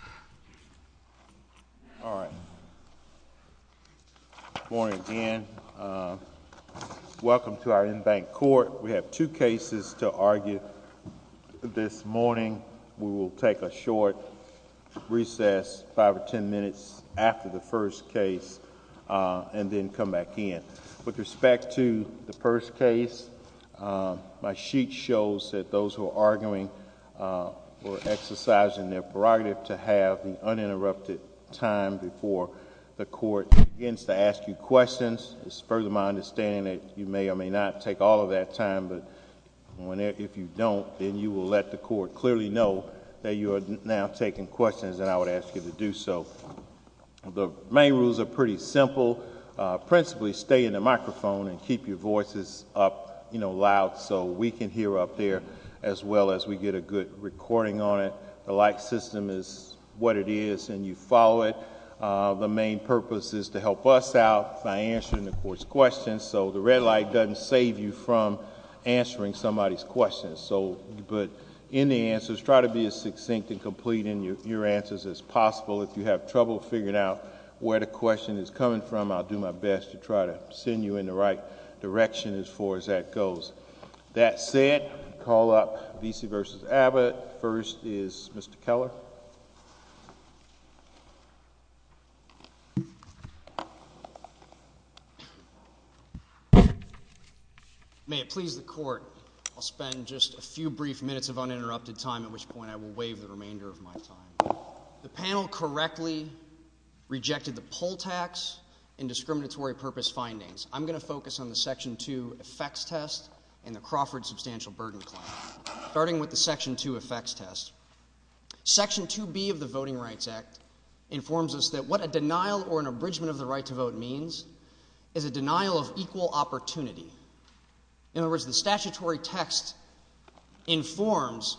Good morning again. Welcome to our in-bank court. We have two cases to argue. This morning we will take a short recess, five or ten minutes, after the first case and then come back in. With respect to the first case, my sheet shows that those who are arguing or exercising their right to have the uninterrupted time before the court begins to ask you questions. It is my understanding that you may or may not take all of that time, but if you don't, then you will let the court clearly know that you are now taking questions and I would ask you to do so. The main rules are pretty simple. Principally, stay in the microphone and keep your voices up, you know, loud so we can hear up there as well as we get a good recording on it. The light system is what it is and you follow it. The main purpose is to help us out by answering the court's questions, so the red light doesn't save you from answering somebody's questions. But in the answers, try to be as succinct and complete in your answers as possible. If you have trouble figuring out where the question is coming from, I'll do my best to try to send you in the right direction as far as that goes. That said, we'll call up Vesey v. Abbott. First is Mr. Keller. May it please the court, I'll spend just a few brief minutes of uninterrupted time, at which point I will waive the remainder of my time. The panel correctly rejected the poll tax and discriminatory purpose findings. I'm going to focus on the Section 2 effects test and the Crawford substantial burden claim, starting with the Section 2 effects test. Section 2B of the Voting Rights Act informs us that what a denial or an abridgment of the right to vote means is a denial of equal opportunity. In other words, the statutory text informs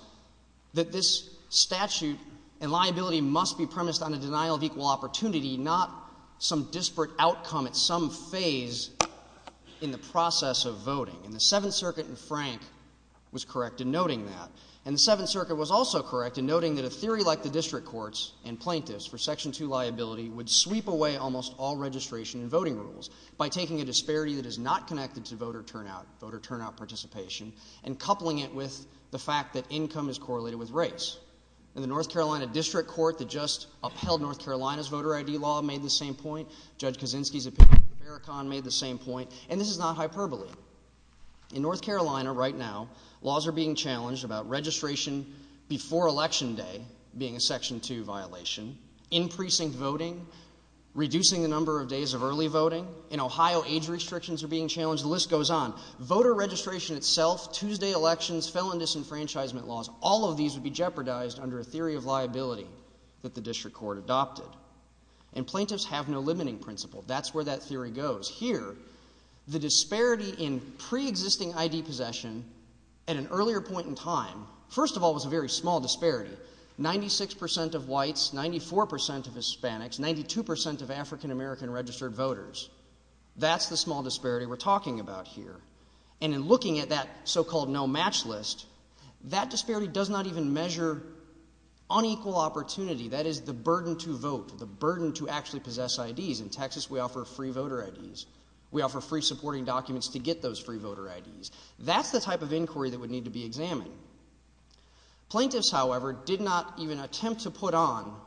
that this statute and liability must be premised on a denial of equal opportunity, not some disparate outcome at some phase in the process of voting. And the Seventh Circuit in Frank was correct in noting that. And the Seventh Circuit was also correct in noting that a theory like the district courts and plaintiffs for Section 2 liability would sweep away almost all registration and voting rules by taking a disparity that is not connected to voter turnout, voter turnout participation, and coupling it with the fact that income is correlated with race. In the North Carolina district court that just upheld North Carolina's voter I.D. law made the same point. Judge Kaczynski's opinion of the Vericon made the same point. And this is not hyperbole. In North Carolina right now, laws are being challenged about registration before election day being a Section 2 violation, increasing voting, reducing the number of days of early voting. In Ohio, age restrictions are being challenged. The list goes on. Voter registration itself, Tuesday elections, felon disenfranchisement laws, all of these would be jeopardized under a theory of liability that the district court adopted. And plaintiffs have no limiting principle. That's where that theory goes. Here, the disparity in pre-existing I.D. possession at an earlier point in time, first of all, was a very small disparity. Ninety-six percent of whites, ninety-four percent of Hispanics, ninety-two percent of African American registered voters. That's the small disparity we're talking about here. And in looking at that so-called no match list, that disparity does not even measure unequal opportunity. That is the burden to vote, the burden to actually possess I.D.s. In Texas, we offer free voter I.D.s. We offer free supporting documents to get those free voter I.D.s. That's the type of inquiry that would need to be examined. Plaintiffs, however, did not even attempt to put on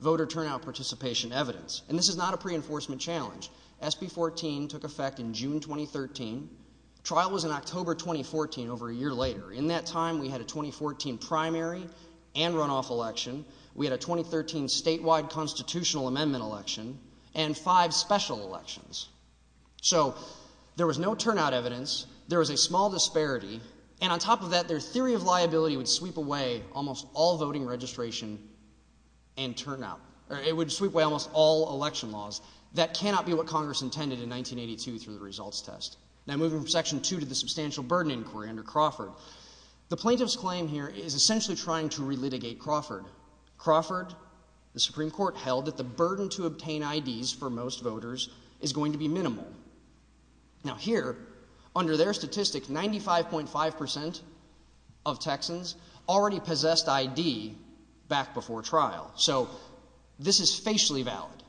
voter turnout participation evidence. And this is not a reinforcement challenge. SB 14 took effect in June 2013. Trial was in October 2014, over a year later. In that time, we had a 2014 primary and runoff election. We had a 2013 statewide constitutional amendment election and five special elections. So, there was no turnout evidence. There was a small disparity. And on top of that, their theory of liability would sweep away almost all voting registration and turnout. It would sweep away almost all election laws. That cannot be what Congress intended in 1982 through the results test. Now, moving from Section 2 to the Substantial Burden Inquiry under Crawford. The plaintiff's claim here is essentially trying to relitigate Crawford. Crawford, the Supreme Court held that the burden to obtain I.D.s. for most voters is going to be minimal. Now, here, under their statistic, 95.5% of Texans already possessed I.D. back before trial. So, this is facially valid.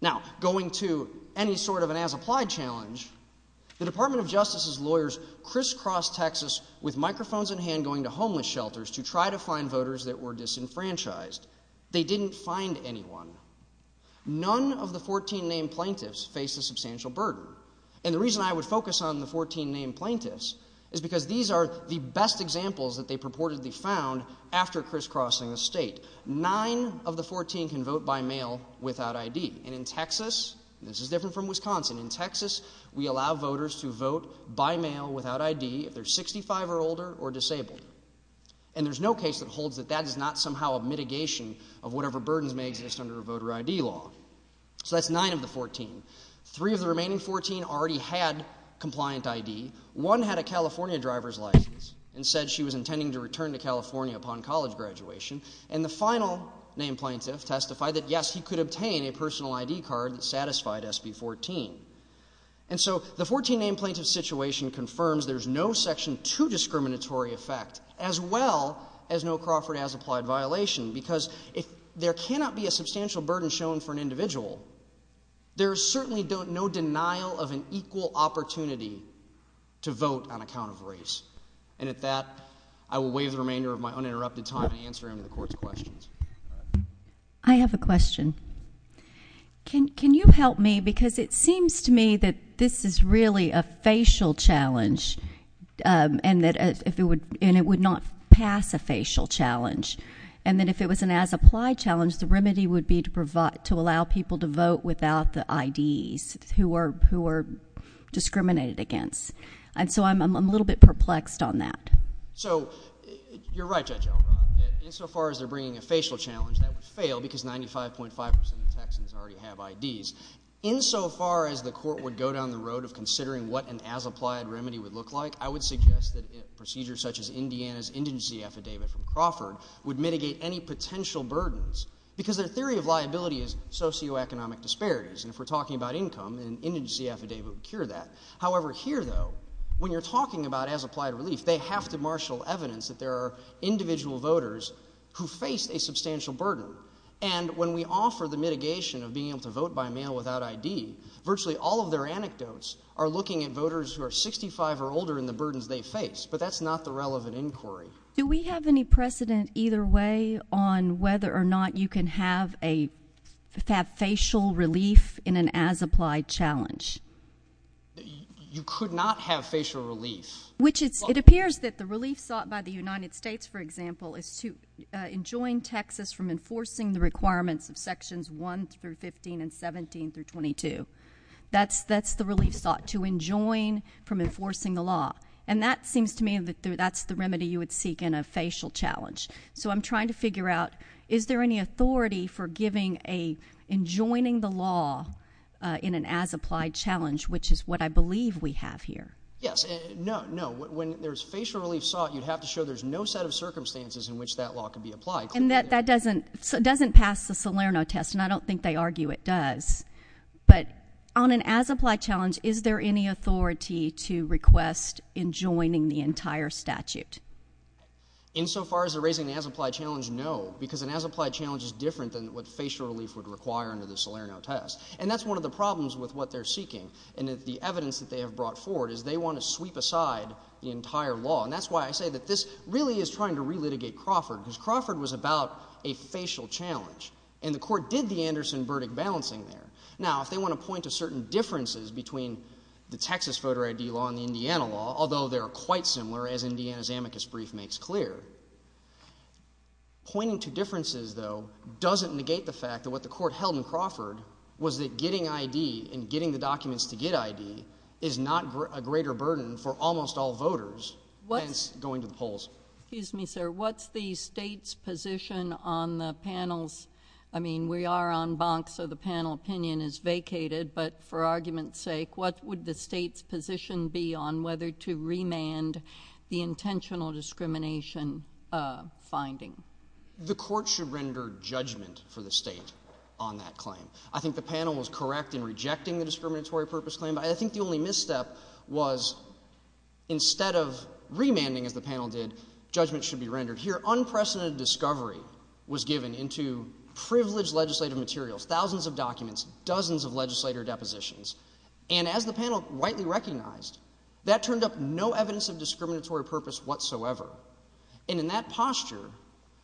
Now, going to any sort of an as-applied challenge, the Department of Justice's lawyers crisscrossed Texas with microphones in hand going to homeless shelters to try to find voters that were disenfranchised. They didn't find anyone. None of the 14 named plaintiffs faced a substantial burden. And the reason I would focus on the 14 named plaintiffs is because these are the best examples that they purportedly found after crisscrossing the state. Nine of the 14 can vote by mail without I.D. And in Texas, this is different from Wisconsin, in Texas we allow voters to vote by mail without I.D. if they're 65 or older or disabled. And there's no case that holds that that is not somehow a mitigation of whatever burdens may exist under voter I.D. law. So, that's nine of the 14. Three of the remaining 14 already had compliant I.D. One had a California driver's license and said she was intending to return to California upon college graduation. And the final named plaintiff testified that, yes, he could obtain a personal I.D. card satisfied SB 14. And so, the 14 named plaintiff situation confirms there's no Section 2 discriminatory effect as well as no Crawford as-applied violation because if there cannot be a substantial burden shown for an individual, there's certainly no denial of an equal opportunity to vote on account of race. And at that, I will waive the remainder of my uninterrupted time to answer any of the Court's questions. I have a question. Can you help me? Because it seems to me that this is really a facial challenge and it would not pass a facial challenge. And that if it was an as-applied challenge, the remedy would be to allow people to vote without the I.D. who are discriminated against. And so, I'm a little bit perplexed on that. So, you're right, Judge Elmore. Insofar as they're bringing a facial challenge, that would fail because 95.5% of Texans already have I.D.s. Insofar as the Court would go down the road of considering what an as-applied remedy would look like, I would suggest that procedures such as Indiana's indigency affidavit from Crawford would mitigate any potential burdens because their theory of liability is socioeconomic disparities. And if we're talking about as-applied relief, they have to marshal evidence that there are individual voters who face a substantial burden. And when we offer the mitigation of being able to vote by mail without I.D., virtually all of their anecdotes are looking at voters who are 65 or older and the burdens they face. But that's not the relevant inquiry. Do we have any precedent either way on whether or not you can have a facial relief in an as-applied challenge? You could not have facial relief. It appears that the relief sought by the United States, for example, is to enjoin Texas from enforcing the requirements of Sections 1 through 15 and 17 through 22. That's the relief sought, to enjoin from enforcing the law. And that seems to me that's the remedy you would seek in a facial challenge. So, I'm trying to figure out, is there any authority for giving an enjoining the law in an as-applied challenge, which is what I believe we have here? Yes. No, no. When there's facial relief sought, you have to show there's no set of circumstances in which that law can be applied. And that doesn't pass the Salerno test, and I don't think they argue it does. But on an as-applied challenge, is there any authority to request enjoining the entire statute? Insofar as they're raising the as-applied challenge, no. Because an as-applied challenge is different than what facial relief would require under the Salerno test. And that's one of the problems with what they're seeking, and that the evidence that they have brought forward is they want to sweep aside the entire law. And that's why I say that this really is trying to relitigate Crawford, because Crawford was about a facial challenge. And the court did the Anderson verdict balancing there. Now, if they want to point to certain differences between the Texas voter ID law and the Indiana law, although they're quite similar, as Indiana's amicus brief makes clear, pointing to differences though doesn't negate the fact that what the court held in Crawford was that getting ID and getting the documents to get ID is not a greater burden for almost all voters, hence going to the polls. Excuse me, sir. What's the state's position on the panel's – I mean, we are en banc, so the panel opinion is vacated, but for argument's sake, what would the state's position be on whether to remand the intentional discrimination finding? The court should render judgment for the state on that claim. I think the panel was correct in rejecting the discriminatory purpose claim, but I think the only misstep was instead of remanding, as the panel did, judgment should be rendered. Here, unprecedented discovery was given into privileged legislative materials, thousands of documents, dozens of legislator depositions, and as the panel rightly recognized, that turned up no evidence of discriminatory purpose whatsoever. And in that posture,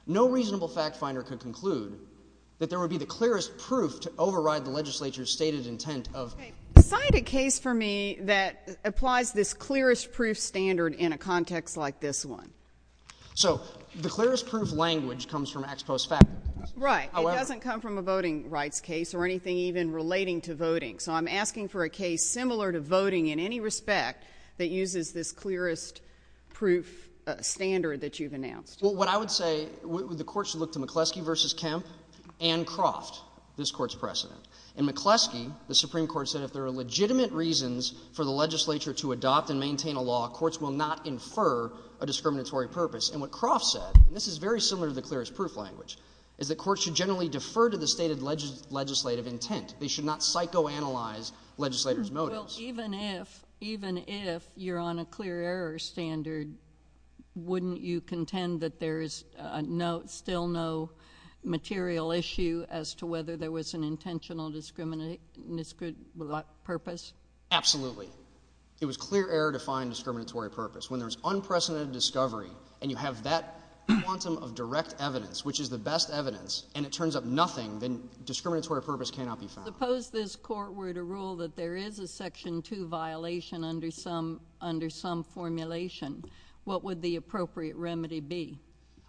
no reasonable fact finder could conclude that there would be the clearest proof to override the legislature's stated intent of – Okay. Decide a case for me that applies this clearest proof standard in a context like this one. So the clearest proof language comes from ex post facto. Right. It doesn't come from a voting rights case or anything even relating to voting. So I'm asking for a case similar to voting in any respect that uses this clearest proof standard that you've announced. Well, what I would say, the courts look to McCleskey v. Kemp and Croft, this Court's precedent. And McCleskey, the Supreme Court, said if there are legitimate reasons for the legislature to adopt and maintain a law, courts will not infer a discriminatory purpose. And what Croft said, and this is very similar to the clearest proof language, is that courts should generally defer to the stated legislative intent. They should not psychoanalyze legislators' motives. Well, even if you're on a clear error standard, wouldn't you contend that there is still no material issue as to whether there was an intentional purpose? Absolutely. It was clear error to find discriminatory purpose. When there's unprecedented discovery and you have that quantum of direct evidence, which is the best evidence, and it turns up nothing, then discriminatory purpose cannot be found. Suppose this Court were to rule that there is a Section 2 violation under some formulation. What would the appropriate remedy be?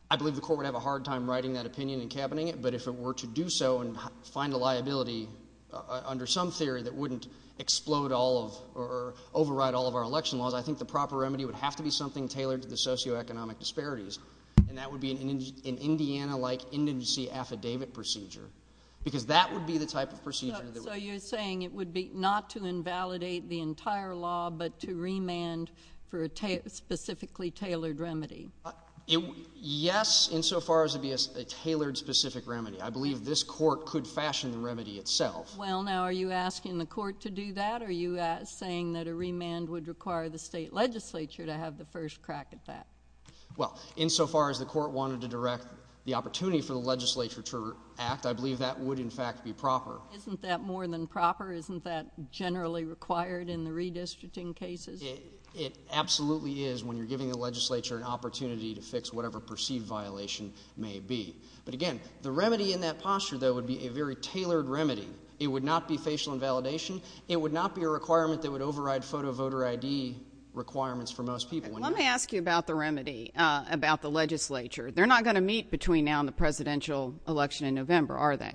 I believe the Court would have a hard time writing that opinion and cabining it, but if it were to do so and find a liability under some theory that wouldn't explode all of or override all of our election laws, I think the proper remedy would have to be something tailored to the socioeconomic disparities, and that would be an Indiana-like indemnicy affidavit procedure, because that would be the type of procedure that would... So you're saying it would be not to invalidate the entire law, but to remand for a specifically tailored remedy? Yes, insofar as it be a tailored specific remedy. I believe this Court could fashion the remedy itself. Well, now, are you asking the Court to do that, or are you saying that a remand would require the state legislature to have the first crack at that? Well, insofar as the Court wanted to direct the opportunity for the legislature to act, I believe that would, in fact, be proper. Isn't that more than proper? Isn't that generally required in the redistricting cases? It absolutely is when you're giving the legislature an opportunity to fix whatever perceived violation may be. But again, the remedy in that posture, though, would be a very tailored remedy. It would not be facial invalidation. It would not be a requirement that would override photo ID requirements for most people. Let me ask you about the remedy, about the legislature. They're not going to meet between now and the presidential election in November, are they?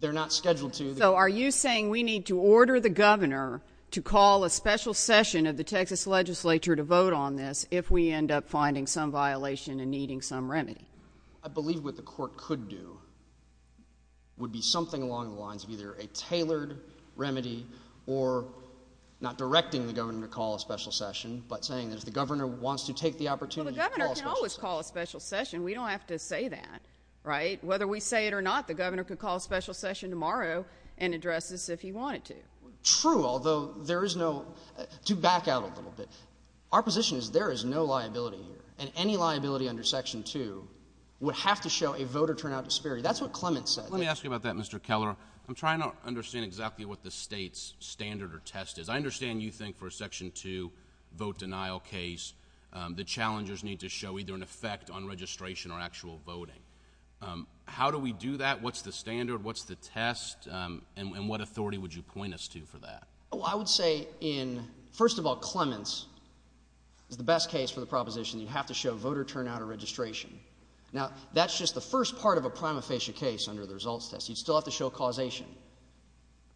They're not scheduled to. So are you saying we need to order the governor to call a special session of the Texas legislature to vote on this if we end up finding some violation and needing some remedy? I believe what the Court could do would be something along the lines of either a tailored remedy or not directing the governor to call a special session, but saying that if the governor wants to take the opportunity to call a special session. Well, the governor can always call a special session. We don't have to say that, right? Whether we say it or not, the governor could call a special session tomorrow and address this if he wanted to. True, although there is no — to back out a little bit, our position is there is no liability here, and any liability under Section 2 would have to show a voter turnout disparity. That's what Clement said. Let me ask you about that, Mr. Keller. I'm trying to understand exactly what the state's standard or test is. I understand you think for a Section 2 vote denial case, the challengers need to show either an effect on registration or actual voting. How do we do that? What's the standard? What's the test? And what authority would you point us to for that? Well, I would say in, first of all, Clement's, the best case for the proposition, you have to show voter turnout or registration. Now, that's just the first part of a prima facie case under the results test. You'd still have to show causation.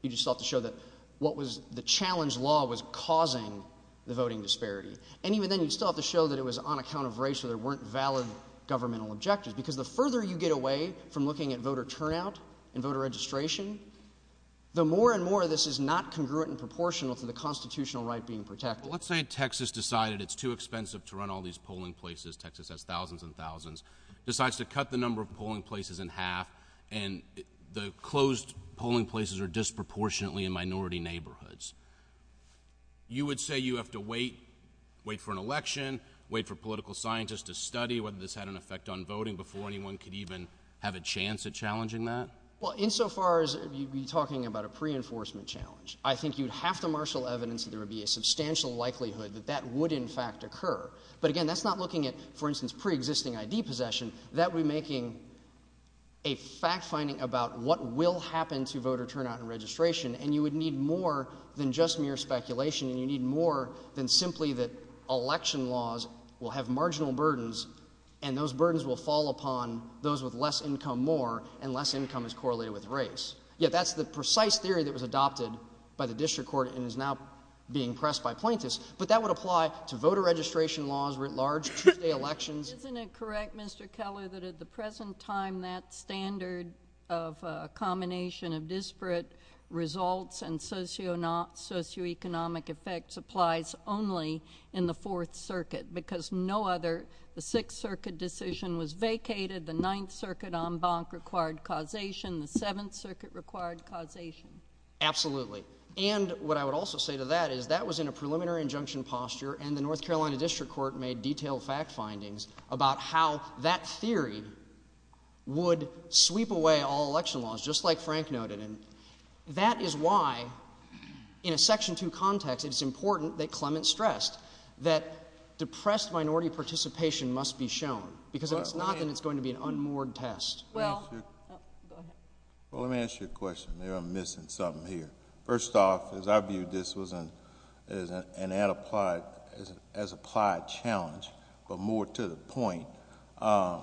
You'd just have to show that what was — the challenge law was causing the voting disparity. And even then, you'd still have to show that it was on account of race or there weren't valid governmental objectives, because the further you get away from looking at voter turnout and voter registration, the more and more this is not congruent and proportional to the constitutional right being protected. Well, let's say Texas decided it's too expensive to run all these polling places. Texas has thousands and thousands. Decides to cut the number of polling places in half, and the closed polling places are disproportionately in minority neighborhoods. You would say you have to wait, wait for an election, wait for political scientists to study whether this had an effect on voting before anyone could even have a chance at challenging that? Well, insofar as you'd be talking about a pre-enforcement challenge, I think you'd have to marshal evidence that there would be a substantial likelihood that that would in fact occur. But again, that's not looking at, for instance, pre-existing ID possession. That would be making a fact-finding about what will happen to voter turnout and registration, and you would need more than just mere speculation, and you need more than simply that election laws will have marginal burdens, and those burdens will fall upon those with less income more, and less income is correlated with race. Yeah, that's the precise theory that was adopted by the district court and is now being pressed by plaintiffs. But that would apply to voter registration laws, large elections. Isn't it correct, Mr. Keller, that at the present time that standard of a combination of disparate results and socioeconomic effects applies only in the Fourth Circuit, because no other, the Sixth Circuit decision was vacated, the Ninth Circuit en banc required causation, the Seventh Circuit required causation? Absolutely. And what I would also say to that is that was in a preliminary injunction posture, and the North Carolina District Court made detailed fact findings about how that theory would sweep away all election laws, just like Frank noted, and that is why in a Section 2 context it's important that Clement stressed that depressed minority participation must be shown, because if it's not, then it's going to be an unmoored test. Well, let me ask you a question. Maybe I'm missing something here. First off, as I viewed this as an applied challenge, but more to the point, am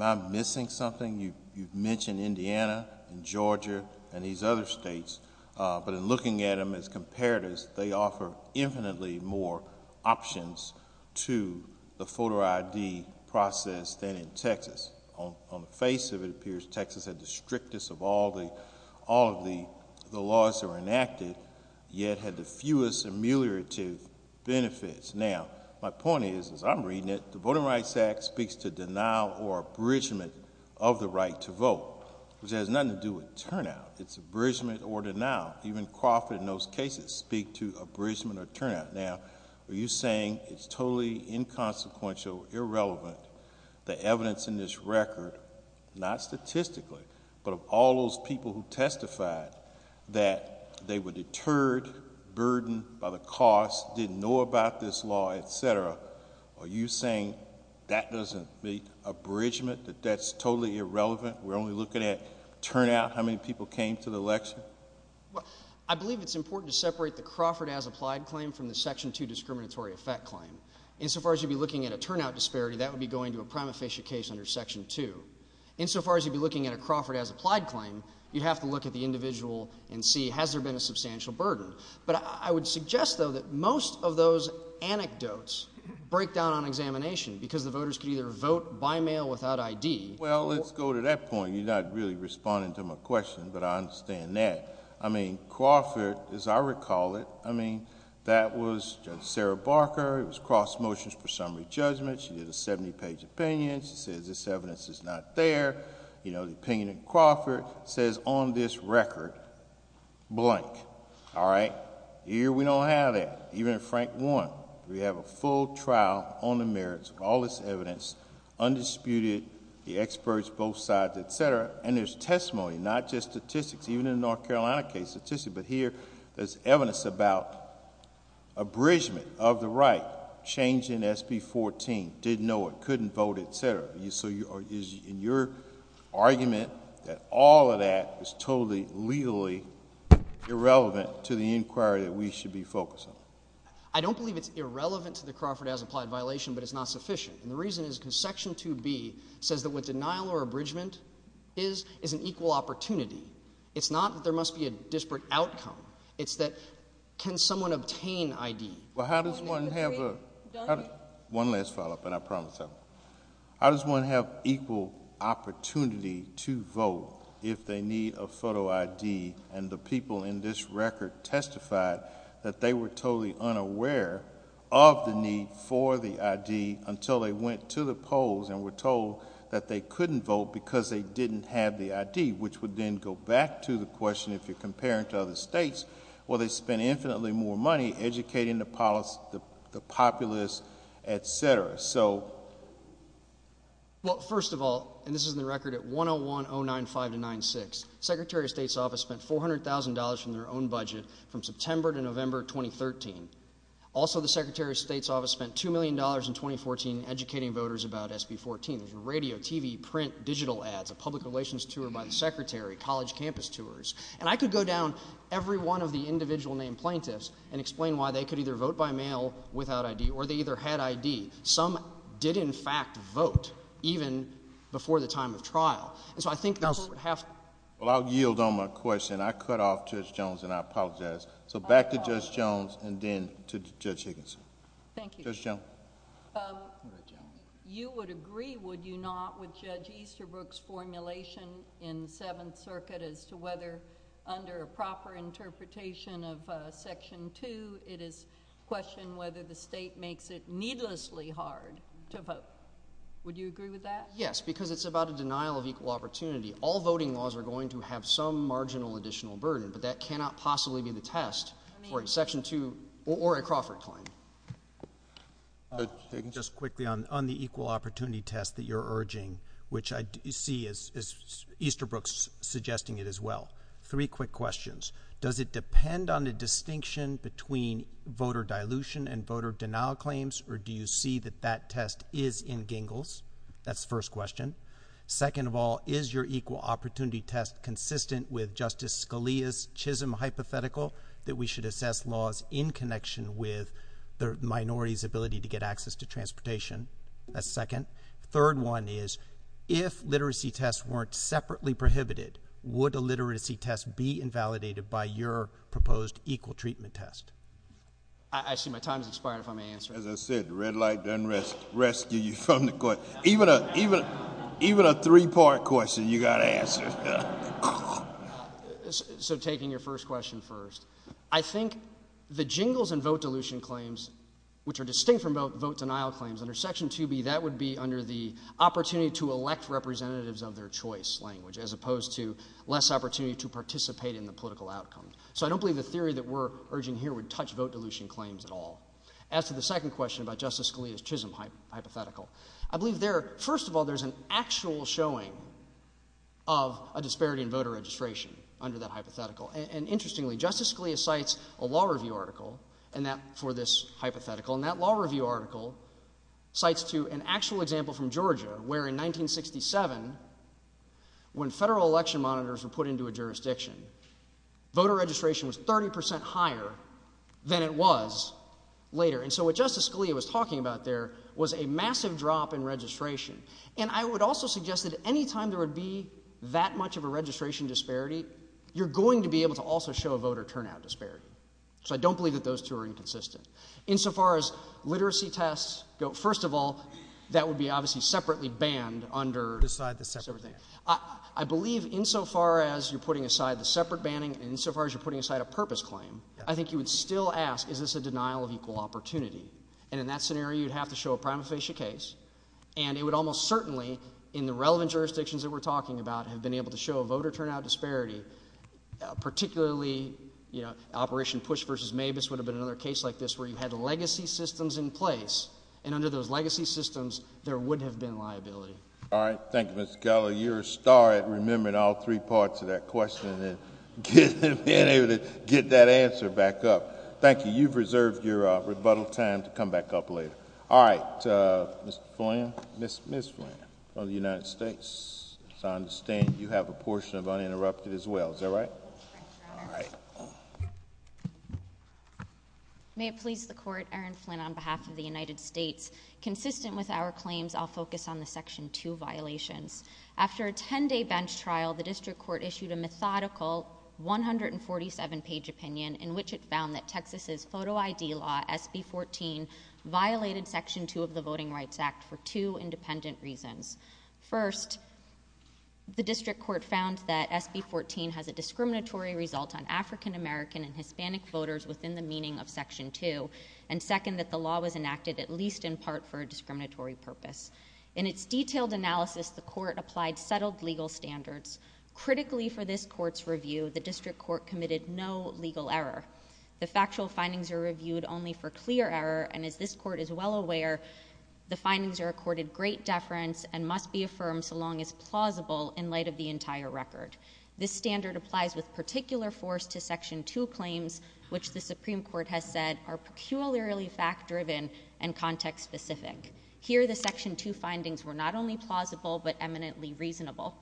I missing something? You mentioned Indiana and Georgia and these other states, but in looking at them as comparatives, they offer infinitely more options to the photo ID process than in Texas. On the face of it, it appears Texas had the strictest of all the laws that were enacted, yet had the fewest ameliorative benefits. Now, my point is, as I'm reading it, the Voting Rights Act speaks to denial or abridgement of the right to vote, which has nothing to do with turnout. It's abridgement or denial. Even Crawford and those cases speak to abridgement or turnout. Now, are you saying it's totally inconsequential, irrelevant, the evidence in this record, not statistically, but of all those people who testified that they were deterred, burdened by the cost, didn't know about this law, et cetera, are you saying that doesn't speak to abridgement, that that's totally irrelevant? We're only looking at turnout, how many people came to the election? I believe it's important to separate the Crawford as applied claim from the Section 2 discriminatory effect claim. Insofar as you'd be looking at a turnout disparity, that would be going to a prima facie case under Section 2. Insofar as you'd be looking at a Crawford as applied claim, you'd have to look at the individual and see, has there been a substantial burden? But I would suggest, though, that most of those anecdotes break down on examination because the voters could either vote by mail without ID. Well, let's go to that point. You're not really responding to my question, but I understand that. I mean, Crawford, as I recall it, I mean, that was Sarah Barker. It was cross motions for summary judgment. She did a 70-page opinion. She says this evidence is not fair. The opinion of Crawford says on this record, blank. All right? Here, we don't have that. Even in Frank Warren, we have a full trial on the merits of all this evidence, undisputed, the experts both sides, et cetera. And there's testimony, not just statistics. Even in the North Carolina case, statistics. But here, there's evidence about abridgment of the right, changing SB 14, didn't know it, couldn't vote, et cetera. So is your argument that all of that is totally legally irrelevant to the inquiry that we should be focusing? I don't believe it's irrelevant to the Crawford as implied violation, but it's not sufficient. And the reason is Section 2B says that what denial or abridgment is, is an equal opportunity. It's not that there must be a disparate outcome. It's that can someone obtain ID? Well, how does one have a... One last follow-up, and I promise that. How does one have equal opportunity to vote if they need a photo ID, and the people in this record testified that they were totally unaware of the need for the ID until they went to the polls and were told that they couldn't vote because they didn't have the ID, which would then go back to the question, if you're comparing to other states, where they spend infinitely more money educating the populace, et cetera. So... Well, first of all, and this is in the record at 101-09596, the Secretary of State's office spent $400,000 from their own budget from September to November of 2013. Also, the Secretary of State's office spent $2 million in 2014 educating voters about SB 14, radio, TV, print, digital ads, a public relations tour by the Secretary, college campus tours. And I could go down every one of the individual named plaintiffs and explain why they could either vote by mail without ID or they either had ID. Some did, in fact, vote even before the time of trial. Well, I'll yield on my question. I cut off Judge Jones and I apologize. So back to Judge Jones and then to Judge Higginson. Thank you. Judge Jones. You would agree, would you not, with Judge Easterbrook's formulation in Seventh Circuit as to whether under a proper interpretation of Section 2, it is questioned whether the state makes it needlessly hard to vote. Would you agree with that? Yes, because it's about a denial of equal opportunity. All voting laws are going to have some marginal additional burden, but that cannot possibly be the test for a Section 2 or a Crawford claim. Just quickly on the equal opportunity test that you're urging, which I see Easterbrook's suggesting it as well. Three quick questions. Does it depend on the distinction between voter dilution and voter denial claims, or do you see that that test is in Gingles? That's the first question. Second of all, is your equal opportunity test consistent with Justice Scalia's chiseled hypothetical that we should assess laws in connection with the minority's ability to get access to transportation? That's second. Third one is, if literacy tests weren't separately prohibited, would a literacy test be invalidated by your proposed equal treatment test? Actually, my time has expired before my answer. As I said, the red light doesn't rescue you from the question. Even a three-part question you've got to answer. So taking your first question first, I think the Gingles and vote dilution claims, which are distinct from vote denial claims, under Section 2B, that would be under the opportunity to elect representatives of their choice language, as opposed to less opportunity to participate in the political outcomes. So I don't believe the theory that we're urging here would touch vote dilution claims at all. As to the second question about Justice Scalia's chiseled hypothetical, I believe there, first of all, there's an actual showing of a disparity in voter registration under that hypothetical. And interestingly, Justice Scalia cites a law review article for this hypothetical, and that law review article cites an actual example from Georgia, where in 1967, when federal election monitors were put into a jurisdiction, voter registration was 30 percent higher than it was later. And so what Justice Scalia was talking about there was a massive drop in registration. And I would also suggest that any time there would be that much of a registration disparity, you're going to be able to also show a voter turnout disparity. So I don't believe that those two are inconsistent. Insofar as literacy tests go, first of all, that would be obviously separately banned under this side of the section. I believe insofar as you're putting aside the separate banning and insofar as you're putting aside a purpose claim, I think you would still ask, is this a denial of equal opportunity? And in that scenario, you'd have to show a prima facie case. And it would almost certainly, in the relevant jurisdictions that we're talking about, have been able to show a voter turnout disparity, particularly, you know, Operation Push versus Mavis would have been another case like this where you had legacy systems in place, and under those legacy systems, there would have been liability. All right. Thank you, Ms. Geller. You're a star at remembering all three parts of that question and being able to get that answer back up. Thank you. You've reserved your rebuttal time to come back up later. All right. Ms. Flynn of the United States, as I understand, you have a portion of uninterrupted as well. Is that right? All right. May it please the Court, Aaron Flynn on behalf of the United States, consistent with our claims, I'll focus on the Section 2 violation. After a 10-day bench trial, the District Court issued a methodical 147-page opinion in which it found that Texas's photo ID law, SB 14, violated Section 2 of the Voting Rights Act for two independent reasons. First, the District Court found that SB 14 has a discriminatory result on African American and Hispanic voters within the meaning of Section 2. And second, that the law was enacted at least in part for a discriminatory purpose. In its detailed analysis, the Court applied settled legal standards. Critically for this Court's review, the District Court committed no legal error. The factual findings are reviewed only for clear error. And as this Court is well aware, the findings are accorded great deference and must be affirmed so long as plausible in light of the entire record. This standard applies with particular force to Section 2 claims, which the Supreme Court has said are peculiarly fact-driven and context-specific. Here, the Section 2 findings were not only plausible but eminently reasonable.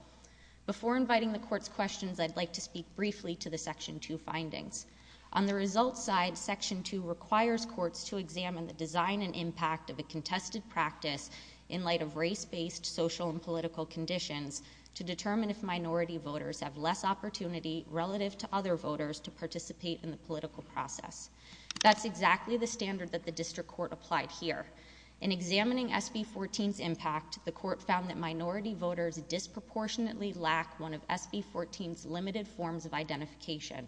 Before inviting the Court's questions, I'd like to speak briefly to the Section 2 findings. On the results side, Section 2 requires courts to examine the design and impact of a contested practice in light of race-based social and political conditions to determine if minority voters have less opportunity relative to other voters to participate in the political process. That's exactly the standard that the District Court applied here. In examining SB 14's impact, the Court found that minority voters disproportionately lacked one of SB 14's limited forms of identification.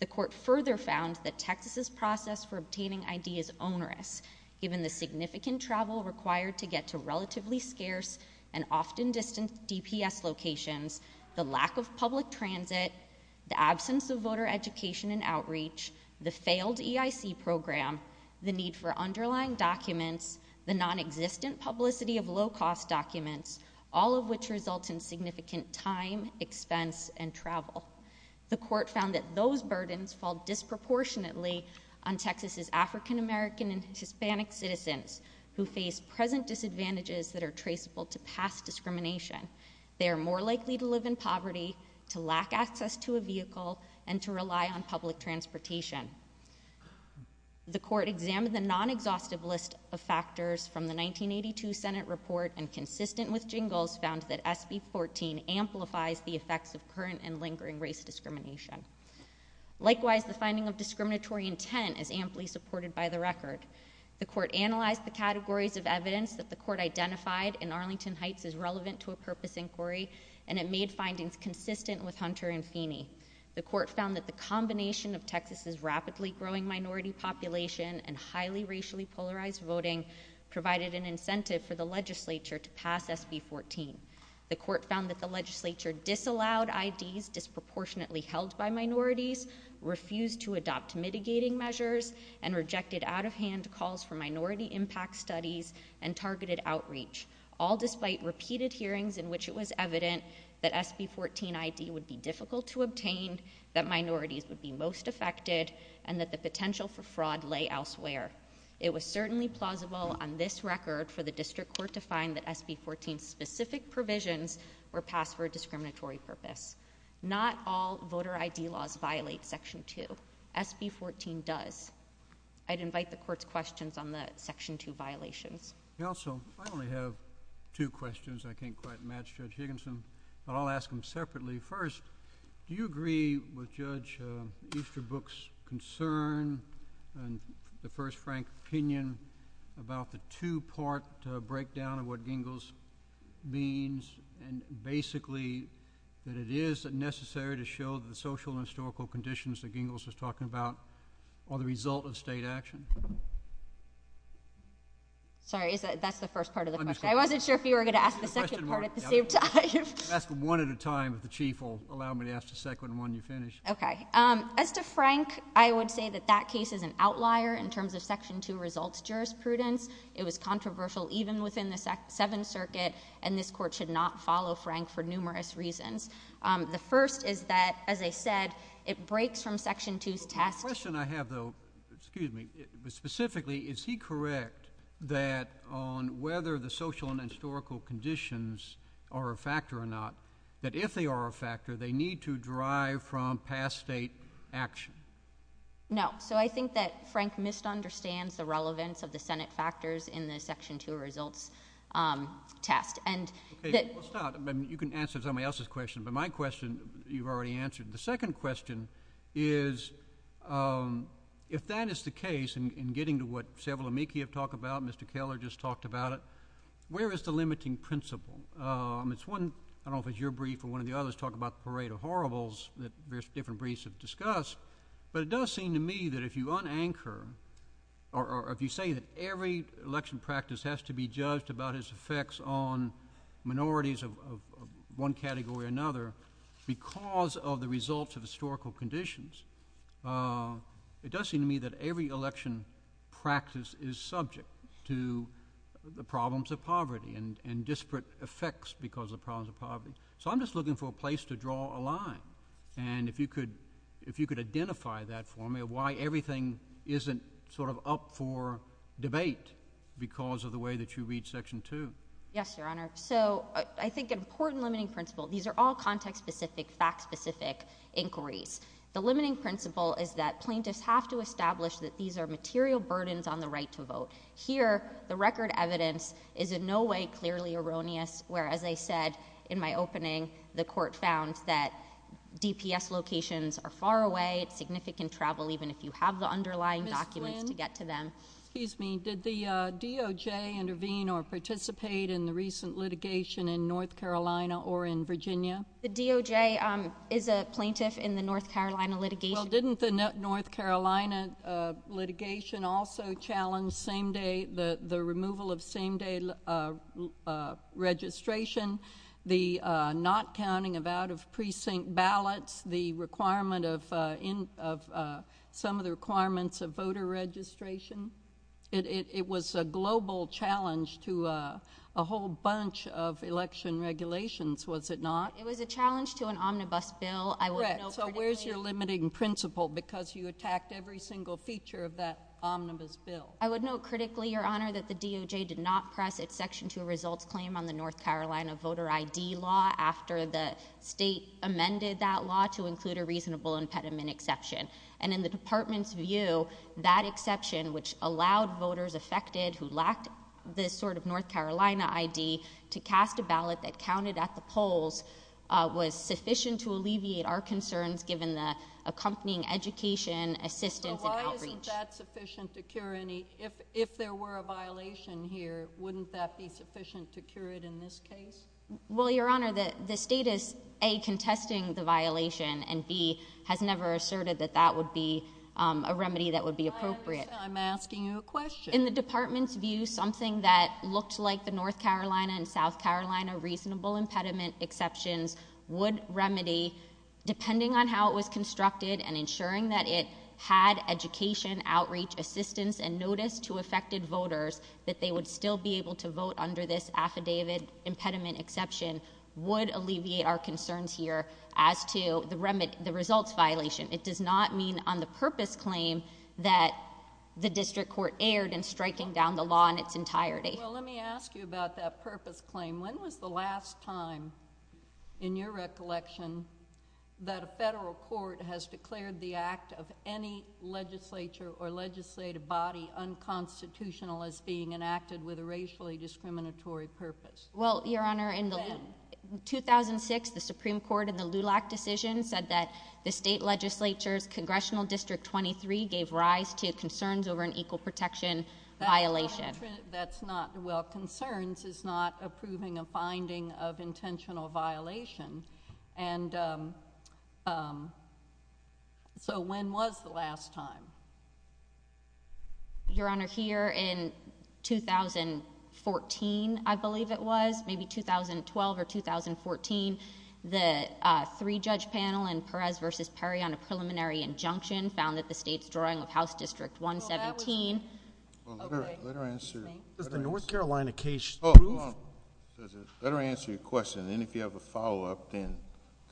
The Court further found that Texas' process for obtaining ID is onerous, given the significant travel required to get to relatively scarce and often distanced DPS locations, the lack of public transit, the absence of voter education and outreach, the failed EIC program, the need for underlying documents, the nonexistent publicity of low-cost documents, all of which result in significant time, expense, and travel. The Court found that those burdens fall disproportionately on Texas' African American and Hispanic citizens who face present disadvantages that are traceable to past discrimination. They are more likely to live in poverty, to lack access to a vehicle, and to rely on public transportation. The Court examined the nonexhaustive list of factors from the 1982 Senate report and, consistent with Jingles, found that SB 14 amplifies the effects of current and lingering race discrimination. Likewise, the finding of discriminatory intent is amply supported by the record. The Court analyzed the categories of evidence that the Court identified in Arlington Heights is relevant to a purpose inquiry, and it made findings consistent with Hunter and Feeney. The Court found that the combination of Texas' rapidly growing minority population and highly racially polarized voting provided an incentive for the legislature to pass SB 14. The Court found that the legislature disallowed IDs disproportionately held by minorities, refused to adopt mitigating measures, and rejected out-of-hand calls for minority impact studies and targeted outreach, all despite repeated hearings in which it was evident that SB 14 ID would be difficult to obtain, that minorities would be most affected, and that the potential for fraud lay elsewhere. It was certainly plausible on this record for the District Court to find that SB 14's specific provisions were passed for a discriminatory purpose. Not all voter ID laws violate Section 2. SB 14 does. I'd invite the Court's questions on the Section 2 violation. Counsel, I only have two questions. I can't quite match Judge Higginson. I'll ask them separately. First, do you agree with Judge Easterbrook's concern and the First Frank's opinion about the two-part breakdown of what Gingles means, and basically that it is necessary to show the social and historical conditions that Gingles was talking about are the result of state action? Sorry, that's the first part of the question. I wasn't sure if you were going to ask the second part at the same time. Ask them one at a time. The Chief will allow me to ask the second one when you're finished. Okay. As to Frank, I would say that that case is an outlier in terms of Section 2 results jurisprudence. It was controversial even within the Seventh Circuit, and this Court should not follow Frank for numerous reasons. The first is that, as I said, it breaks from Section 2's task. The question I have, though, excuse me, but specifically, is he correct that on whether the social and historical conditions are a factor or not, that if they are a factor, they need to derive from past state action? No. So I think that Frank misunderstands the relevance of the Senate factors in the Section 2 results task. You can answer somebody else's question, but my question you've already answered. The second question is, if that is the case, and getting to what several of me have talked about, Mr. Keller just talked about it, where is the limiting principle? It's one, I don't know if it's your brief or one of the others, talk about the parade of horribles that various different briefs have discussed, or if you say that every election practice has to be judged about its effects on minorities of one category or another because of the results of historical conditions, it does seem to me that every election practice is subject to the problems of poverty and disparate effects because of the problems of poverty. So I'm just looking for a place to draw a line, and if you could identify that for me, why everything isn't sort of up for debate because of the way that you read Section 2. Yes, Your Honor. So I think an important limiting principle, these are all context-specific, fact-specific inquiries. The limiting principle is that plaintiffs have to establish that these are material burdens on the right to vote. Here, the record evidence is in no way clearly erroneous, where, as I said in my opening, the court found that DPF locations are far away, it's significant travel even if you have the underlying documents to get to them. Excuse me, did the DOJ intervene or participate in the recent litigation in North Carolina or in Virginia? The DOJ is a plaintiff in the North Carolina litigation. Well, didn't the North Carolina litigation also challenge the removal of same-day registration, the not counting of out-of-precinct ballots, some of the requirements of voter registration? It was a global challenge to a whole bunch of election regulations, was it not? It was a challenge to an omnibus bill. So where's your limiting principle because you attacked every single feature of that omnibus bill? I would note critically, Your Honor, that the DOJ did not press exception to a result claim on the North Carolina voter ID law after the state amended that law to include a reasonable impediment exception. And in the department's view, that exception, which allowed voters affected who lacked this sort of North Carolina ID to cast a ballot that counted at the polls, was sufficient to alleviate our concerns given the accompanying education, assistance, and outreach. So why isn't that sufficient security? If there were a violation here, wouldn't that be sufficient security in this case? Well, Your Honor, the state is, A, contesting the violation, and B, has never asserted that that would be a remedy that would be appropriate. I'm asking you a question. In the department's view, something that looked like the North Carolina and South Carolina reasonable impediment exception would remedy, depending on how it was constructed and ensuring that it had education, outreach, assistance, and notice to affected voters that they would still be able to vote under this affidavit impediment exception, would alleviate our concerns here as to the results violation. It does not mean on the purpose claim that the district court erred in striking down the law in its entirety. Well, let me ask you about that purpose claim. When was the last time, in your recollection, that a federal court has declared the act of any legislature or legislative body unconstitutional as being enacted with a racially discriminatory purpose? Well, Your Honor, in 2006, the Supreme Court in the LULAC decision said that the state legislature's Congressional District 23 gave rise to concerns over an equal protection violation. That's not, well, concerns is not approving a finding of intentional violation. And so when was the last time? Your Honor, here in 2014, I believe it was, maybe 2012 or 2014, the three-judge panel in Perez v. Perry on a preliminary injunction found that the state's drawing of House District 117. Let her answer. The North Carolina case. Let her answer your question. And if you have a follow-up, then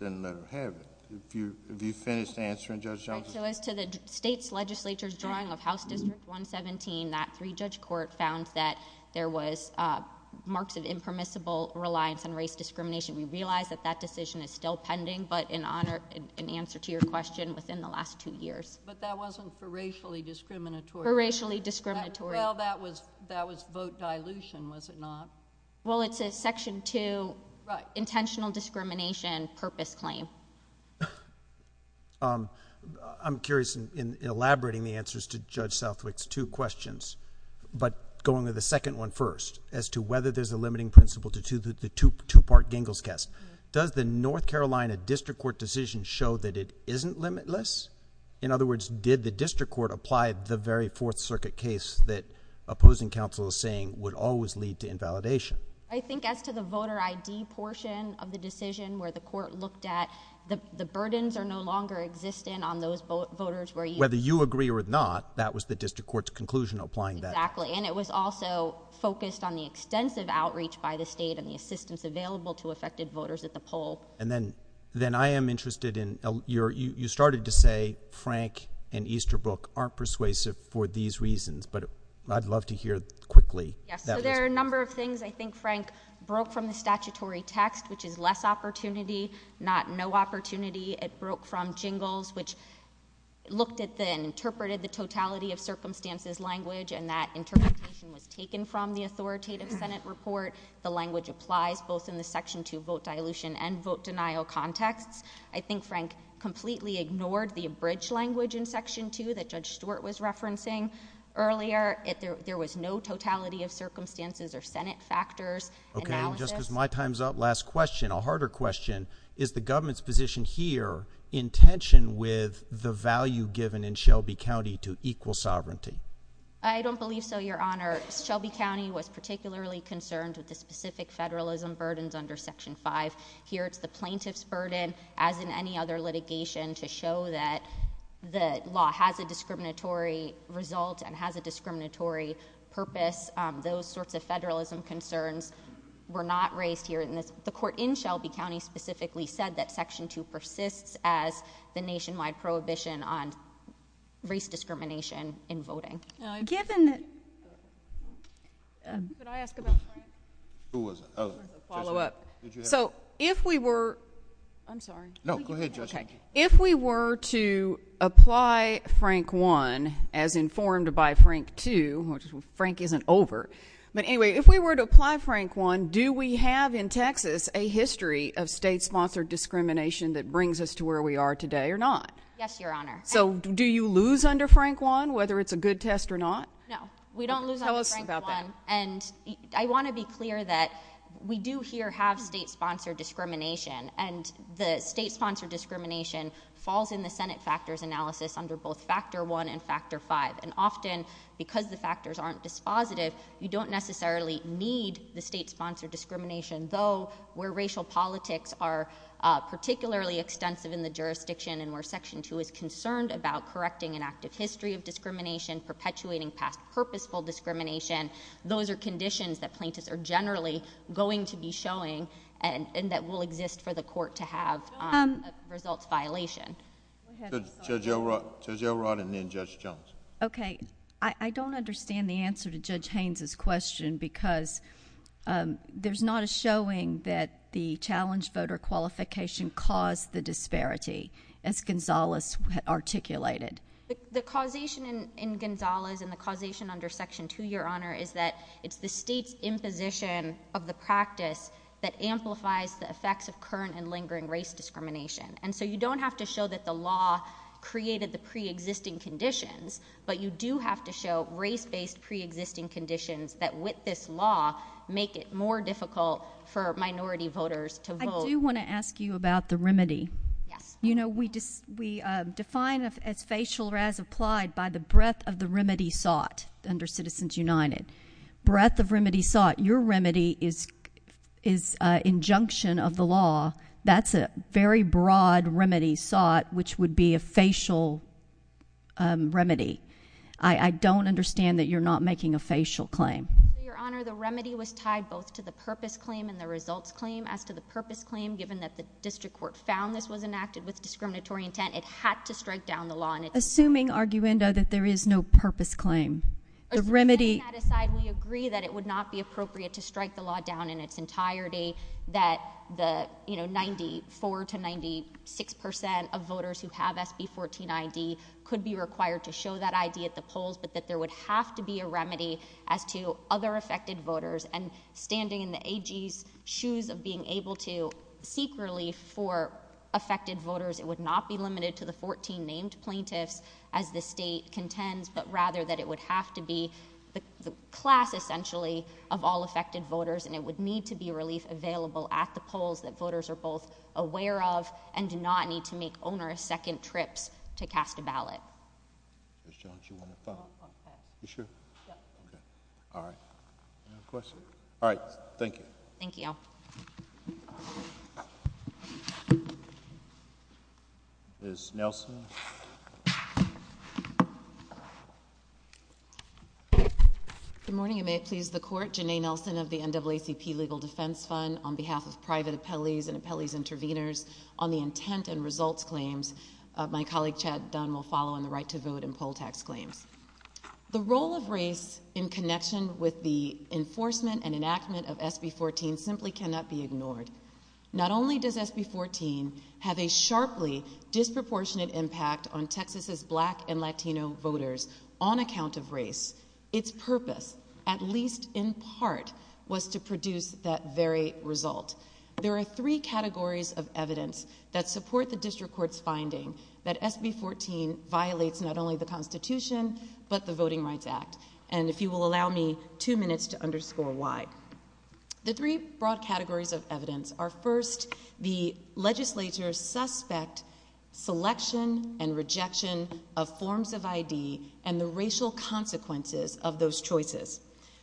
let her have it. If you finish answering, Judge Johnson. So as to the state's legislature's drawing of House District 117, that three-judge court found that there was marks of impermissible reliance on race discrimination. We realize that that decision is still pending, but in honor, in answer to your question, within the last two years. But that wasn't for racially discriminatory. For racially discriminatory. Well, that was vote dilution, was it not? Well, it's a Section 2 intentional discrimination purpose claim. I'm curious, in elaborating the answers to Judge Southwick's two questions, but going to the second one first, as to whether there's a limiting principle to the two-part Gingell's test. Does the North Carolina district court decision show that it isn't limitless? In other words, did the district court apply the very Fourth Circuit case that opposing counsel is saying would always lead to invalidation? I think as to the voter ID portion of the decision where the court looked at, the burdens are no longer existent on those voters. Whether you agree or not, that was the district court's conclusion applying that. Exactly. And it was also focused on the extensive outreach by the state and the assistance available to affected voters at the poll. And then I am interested in, you started to say Frank and Easterbrook aren't persuasive for these reasons, but I'd love to hear quickly. There are a number of things I think Frank broke from the statutory text, which is less opportunity, not no opportunity. It broke from Gingell's, which looked at and interpreted the totality of circumstances language, and that interpretation was taken from the authoritative Senate report. The language applies both in the Section 2 vote dilution and vote denial context. I think Frank completely ignored the abridged language in Section 2 that Judge Stewart was referencing earlier. There was no totality of circumstances or Senate factors. Okay, and just as my time's up, last question, a harder question. Is the government's position here in tension with the value given in Shelby County to equal sovereignty? I don't believe so, Your Honor. Shelby County was particularly concerned with the specific federalism burdens under Section 5. Here's the plaintiff's burden, as in any other litigation, to show that the law has a discriminatory result and has a discriminatory purpose. Those sorts of federalism concerns were not raised here. The court in Shelby County specifically said that Section 2 persists as the nationwide prohibition on race discrimination in voting. Could I ask a question? Who was it? A follow-up. So if we were to apply Frank 1, as informed by Frank 2, which Frank isn't over, but anyway, if we were to apply Frank 1, do we have in Texas a history of state-sponsored discrimination that brings us to where we are today or not? Yes, Your Honor. So do you lose under Frank 1, whether it's a good test or not? No, we don't lose under Frank 1. And I want to be clear that we do here have state-sponsored discrimination, and the state-sponsored discrimination falls in the Senate factors analysis under both Factor 1 and Factor 5. And often, because the factors aren't dispositive, you don't necessarily need the state-sponsored discrimination, though, where racial politics are particularly extensive in the jurisdiction and where Section 2 is concerned about correcting an active history of discrimination, perpetuating past purposeful discrimination, those are conditions that plaintiffs are generally going to be showing and that will exist for the court to have a results violation. Judge Elrod and then Judge Jones. Okay. I don't understand the answer to Judge Haynes' question because there's not a showing that the challenge voter qualification caused the disparity, as Gonzales articulated. The causation in Gonzales and the causation under Section 2, Your Honor, is that it's the state's imposition of the practice that amplifies the effects of current and lingering race discrimination. And so you don't have to show that the law created the pre-existing conditions, but you do have to show race-based pre-existing conditions that, with this law, make it more difficult for minority voters to vote. I do want to ask you about the remedy. Yes. You know, we define as facial or as applied by the breadth of the remedy thought under Citizens United. Breadth of remedy thought. Your remedy is injunction of the law. That's a very broad remedy thought, which would be a facial remedy. I don't understand that you're not making a facial claim. Your Honor, the remedy was tied both to the purpose claim and the results claim. As to the purpose claim, given that the district court found this was enacted with discriminatory intent, it had to strike down the law. Assuming, arguendo, that there is no purpose claim. The remedy — Setting that aside, we agree that it would not be appropriate to strike the law down in its entirety, that the, you know, 94 to 96 percent of voters who have SB14ID could be required to show that ID at the polls, but that there would have to be a remedy as to other affected voters. And standing in the AG's shoes of being able to seek relief for affected voters, it would not be limited to the 14 named plaintiffs, as the state contends, but rather that it would have to be the class, essentially, of all affected voters, and it would need to be relief available at the polls that voters are both aware of and do not need to make on their second trip to cast a ballot. Mr. Walsh, you want to follow up on that? You sure? Yeah. All right. Any questions? All right. Thank you. Thank you. Ms. Nelson? Good morning, and may it please the Court. Janai Nelson of the NAACP Legal Defense Fund. On behalf of private appellees and appellee's intervenors, on the intent and result claims, my colleague, Chad Dunn, will follow on the right to vote and poll tax claims. The role of race in connection with the enforcement and enactment of SB14 simply cannot be ignored. Not only does SB14 have a sharply disproportionate impact on Texas' black and Latino voters on account of race, its purpose, at least in part, was to produce that very result. There are three categories of evidence that support the district court's finding that SB14 violates not only the Constitution but the Voting Rights Act, and if you will allow me two minutes to underscore why. The three broad categories of evidence are, first, the legislature's suspect selection and rejection of forms of ID and the racial consequences of those choices.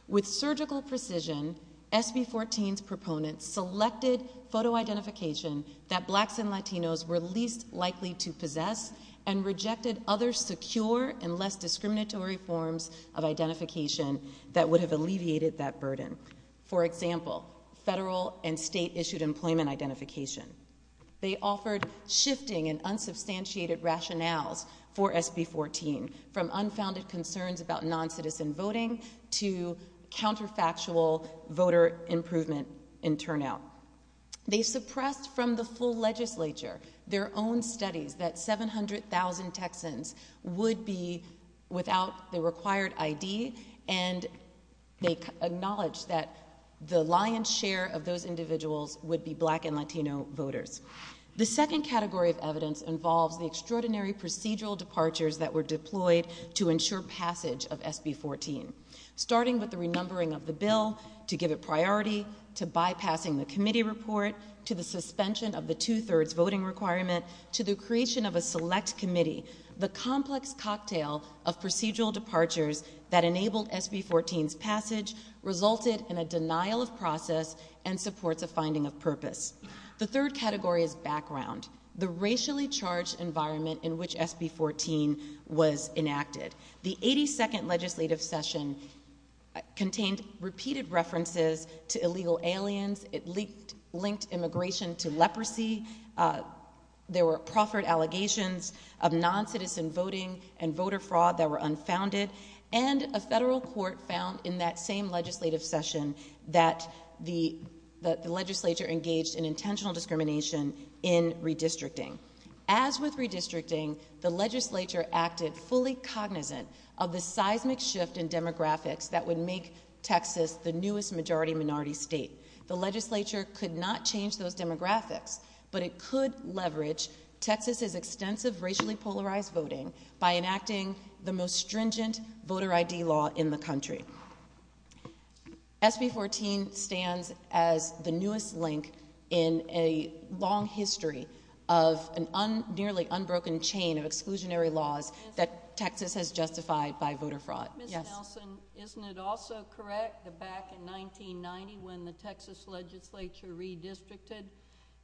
With surgical precision, SB14's proponents selected photo identification that blacks and Latinos were least likely to possess and rejected other secure and less discriminatory forms of identification that would have alleviated that burden. For example, federal and state-issued employment identification. They offered shifting and unsubstantiated rationales for SB14, from unfounded concerns about non-citizen voting to counterfactual voter improvement in turnout. They suppressed from the full legislature their own studies that 700,000 Texans would be without the required ID and they acknowledged that the lion's share of those individuals would be black and Latino voters. The second category of evidence involved the extraordinary procedural departures that were deployed to ensure passage of SB14, starting with the remembering of the bill to give it priority, to bypassing the committee report, to the suspension of the two-thirds voting requirement, to the creation of a select committee. The complex cocktail of procedural departures that enabled SB14's passage resulted in a denial of process and support the finding of purpose. The third category is background, the racially charged environment in which SB14 was enacted. The 82nd legislative session contained repeated references to illegal aliens, it linked immigration to leprosy, there were proffered allegations of non-citizen voting and voter fraud that were unfounded, and a federal court found in that same legislative session that the legislature engaged in intentional discrimination in redistricting. As with redistricting, the legislature acted fully cognizant of the seismic shift in demographics that would make Texas the newest majority-minority state. The legislature could not change those demographics, but it could leverage Texas's extensive racially polarized voting by enacting the most stringent voter ID law in the country. SB14 stands as the newest link in a long history of a nearly unbroken chain of exclusionary laws that Texas has justified by voter fraud. Ms. Nelson, isn't it also correct that back in 1990 when the Texas legislature redistricted,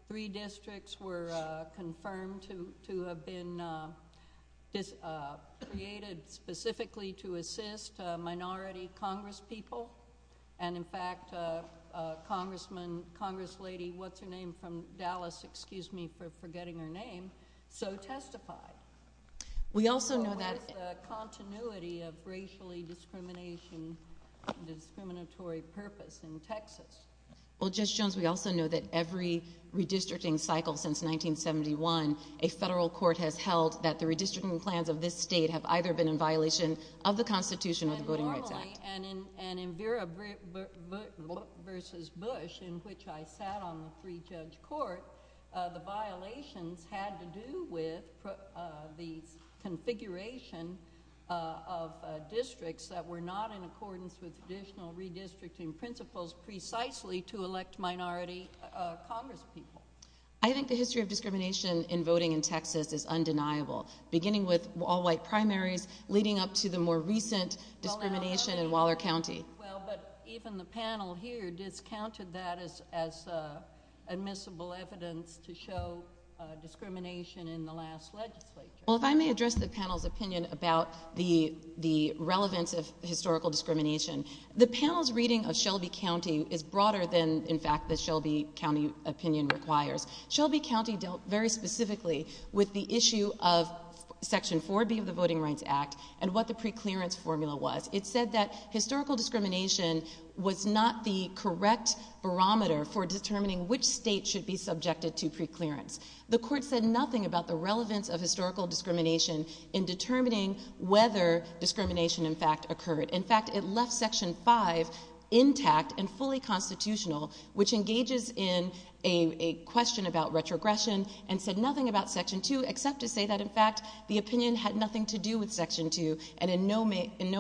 three districts were confirmed to have been created specifically to assist minority congresspeople, and in fact a congressman, congresslady, what's her name from Dallas, excuse me for forgetting her name, so testified. We also know that... The continuity of racially discrimination, the discriminatory purpose in Texas. Well Judge Jones, we also know that every redistricting cycle since 1971, a federal court has held that the redistricting plans of this state have either been in violation of the Constitution or voting rights laws. And in Vera v. Bush, in which I sat on the pre-judge court, the violations had to do with the configuration of districts that were not in accordance with traditional redistricting principles precisely to elect minority congresspeople. I think the history of discrimination in voting in Texas is undeniable. Beginning with all white primaries, leading up to the more recent discrimination in Waller County. Well but even the panel here discounted that as admissible evidence to show discrimination in the last legislature. Well if I may address the panel's opinion about the relevance of historical discrimination. The panel's reading of Shelby County is broader than in fact the Shelby County opinion requires. Shelby County dealt very specifically with the issue of Section 4B of the Voting Rights Act and what the pre-clearance formula was. It said that historical discrimination was not the correct barometer for determining which state should be subjected to pre-clearance. The court said nothing about the relevance of historical discrimination in determining whether discrimination in fact occurred. In fact it left Section 5 intact and fully constitutional, which engages in a question about retrogression, and said nothing about Section 2 except to say that in fact the opinion had nothing to do with Section 2 and in no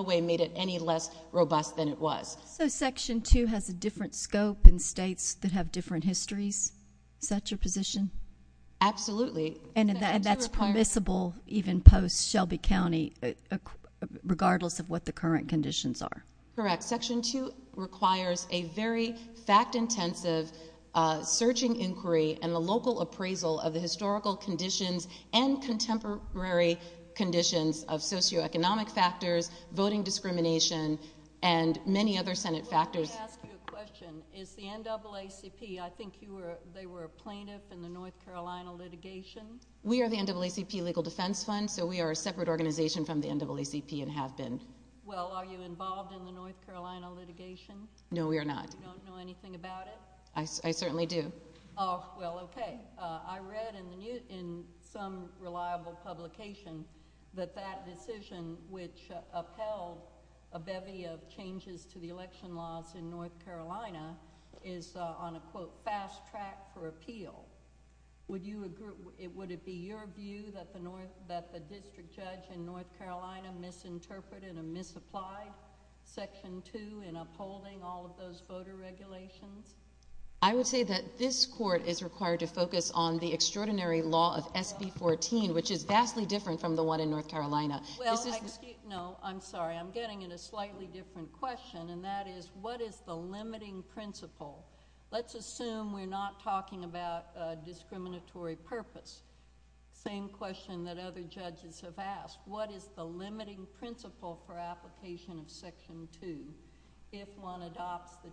way made it any less robust than it was. So Section 2 has a different scope in states that have different histories? Is that your position? Absolutely. And that's permissible even post-Shelby County regardless of what the current conditions are? Correct. Section 2 requires a very fact-intensive searching inquiry and a local appraisal of the historical conditions and contemporary conditions of socioeconomic factors, voting discrimination, and many other Senate factors. Let me ask you a question. Is the NAACP, I think they were a plaintiff in the North Carolina litigation? We are the NAACP Legal Defense Fund, so we are a separate organization from the NAACP and have been. Well, are you involved in the North Carolina litigation? No, we are not. You don't know anything about it? I certainly do. Well, okay. I read in some reliable publication that that decision, which upheld a bevy of changes to the election laws in North Carolina, is on a, quote, fast track for appeal. Would it be your view that the district judge in North Carolina misinterpreted and misapplied Section 2 in upholding all of those voter regulations? I would say that this Court is required to focus on the extraordinary law of SB 14, which is vastly different from the one in North Carolina. Well, no, I'm sorry. I'm getting at a slightly different question, and that is, what is the limiting principle? Let's assume we're not talking about a discriminatory purpose. Same question that other judges have asked. What is the limiting principle for application of Section 2 if one adopts the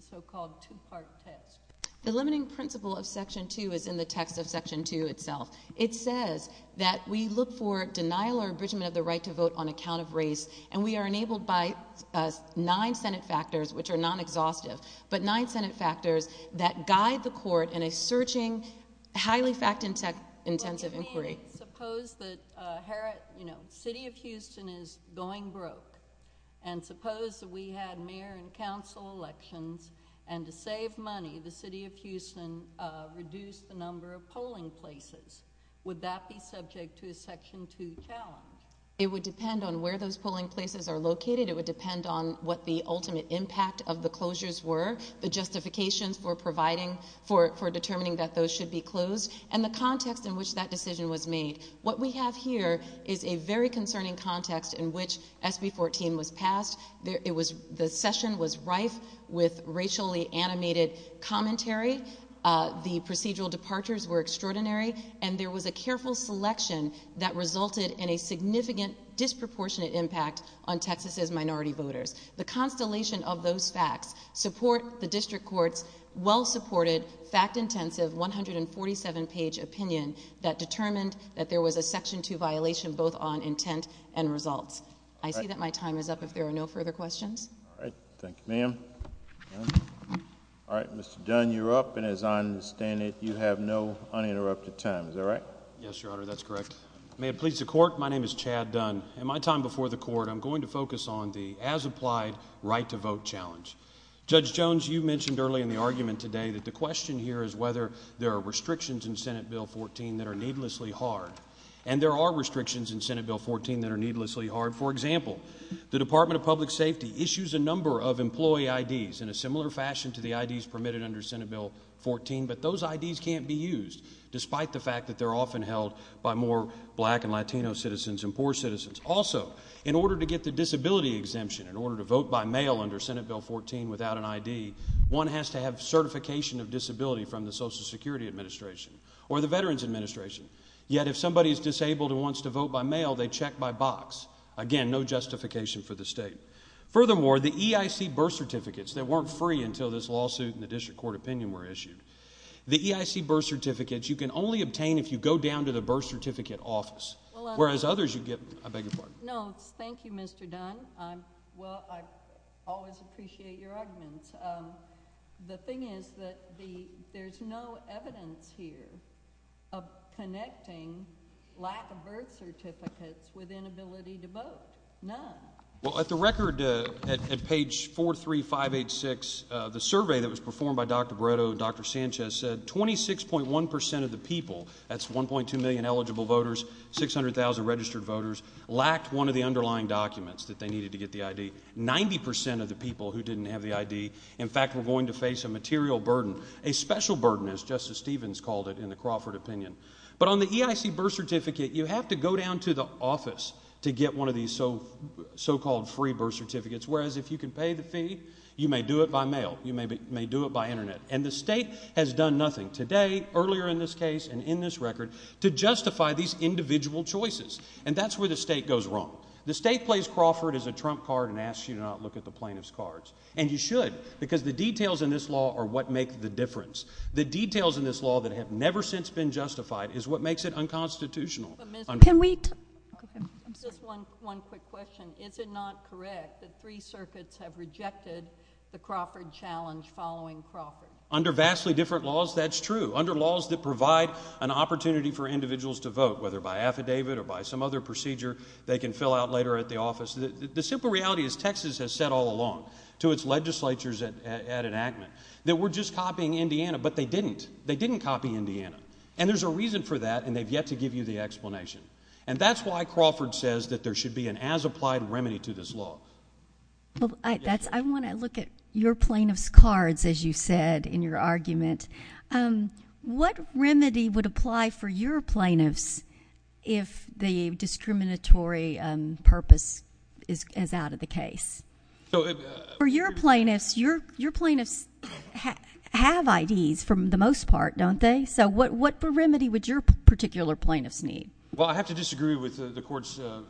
so-called two-part text? The limiting principle of Section 2 is in the text of Section 2 itself. It says that we look for denial or enrichment of the right to vote on account of race, and we are enabled by nine Senate factors, which are non-exhaustive, but nine Senate factors that guide the Court in a searching, highly fact-intensive inquiry. Suppose that City of Houston is going broke, and suppose that we had mayor and council elections, and to save money, the City of Houston reduced the number of polling places. Would that be subject to a Section 2 challenge? It would depend on where those polling places are located. It would depend on what the ultimate impact of the closures were, the justifications for determining that those should be closed, and the context in which that decision was made. What we have here is a very concerning context in which SB 14 was passed. The session was rife with racially animated commentary. The procedural departures were extraordinary, and there was a careful selection that resulted in a significant disproportionate impact on Texas' minority voters. The constellation of those facts support the District Court's well-supported, fact-intensive, 147-page opinion that determined that there was a Section 2 violation, both on intent and results. I see that my time is up, if there are no further questions. All right. Thank you, ma'am. All right, Mr. Dunn, you're up, and as I understand it, you have no uninterrupted time. Is that right? Yes, Your Honor, that's correct. May it please the Court, my name is Chad Dunn. In my time before the Court, I'm going to focus on the as-applied right-to-vote challenge. Judge Jones, you mentioned earlier in the argument today that the question here is whether there are restrictions in Senate Bill 14 that are needlessly hard, and there are restrictions in Senate Bill 14 that are needlessly hard. For example, the Department of Public Safety issues a number of employee IDs in a similar fashion to the IDs permitted under Senate Bill 14, but those IDs can't be used, despite the fact that they're often held by more black and Latino citizens and poor citizens. Also, in order to get the disability exemption, in order to vote by mail under Senate Bill 14 without an ID, one has to have certification of disability from the Social Security Administration or the Veterans Administration. Yet, if somebody is disabled and wants to vote by mail, they check by box. Again, no justification for the State. Furthermore, the EIC birth certificates that weren't free until this lawsuit and the District Court opinion were issued, the EIC birth certificates you can only obtain if you go down to the birth certificate office, whereas others you get… I beg your pardon? No, thank you, Mr. Dunn. Well, I always appreciate your arguments. The thing is that there's no evidence here of connecting lack of birth certificates with inability to vote. None. Well, at the record, at page 43586, the survey that was performed by Dr. Brito and Dr. Sanchez said 26.1 percent of the people, that's 1.2 million eligible voters, 600,000 registered voters, lacked one of the underlying documents that they needed to get the ID. Ninety percent of the people who didn't have the ID, in fact, were going to face a material burden, a special burden, as Justice Stevens called it in the Crawford opinion. But on the EIC birth certificate, you have to go down to the office to get one of these so-called free birth certificates, whereas if you can pay the fee, you may do it by mail, you may do it by internet. And the State has done nothing today, earlier in this case, and in this record, to justify these individual choices. And that's where the State goes wrong. The State plays Crawford as a trump card and asks you to not look at the plaintiff's cards. And you should, because the details in this law are what make the difference. The details in this law that have never since been justified is what makes it unconstitutional. Can we? Just one quick question. Is it not correct that three circuits have rejected the Crawford challenge following Crawford? Under vastly different laws, that's true. Under laws that provide an opportunity for individuals to vote, whether by affidavit or by some other procedure they can fill out later at the office. The simple reality is Texas has said all along to its legislatures at enactment that we're just copying Indiana, but they didn't. They didn't copy Indiana. And there's a reason for that, and they've yet to give you the explanation. And that's why Crawford says that there should be an as-applied remedy to this law. I want to look at your plaintiff's cards, as you said in your argument. What remedy would apply for your plaintiffs if the discriminatory purpose is out of the case? For your plaintiffs, your plaintiffs have IDs for the most part, don't they? So what remedy would your particular plaintiffs need? Well, I have to disagree with the court's opinion.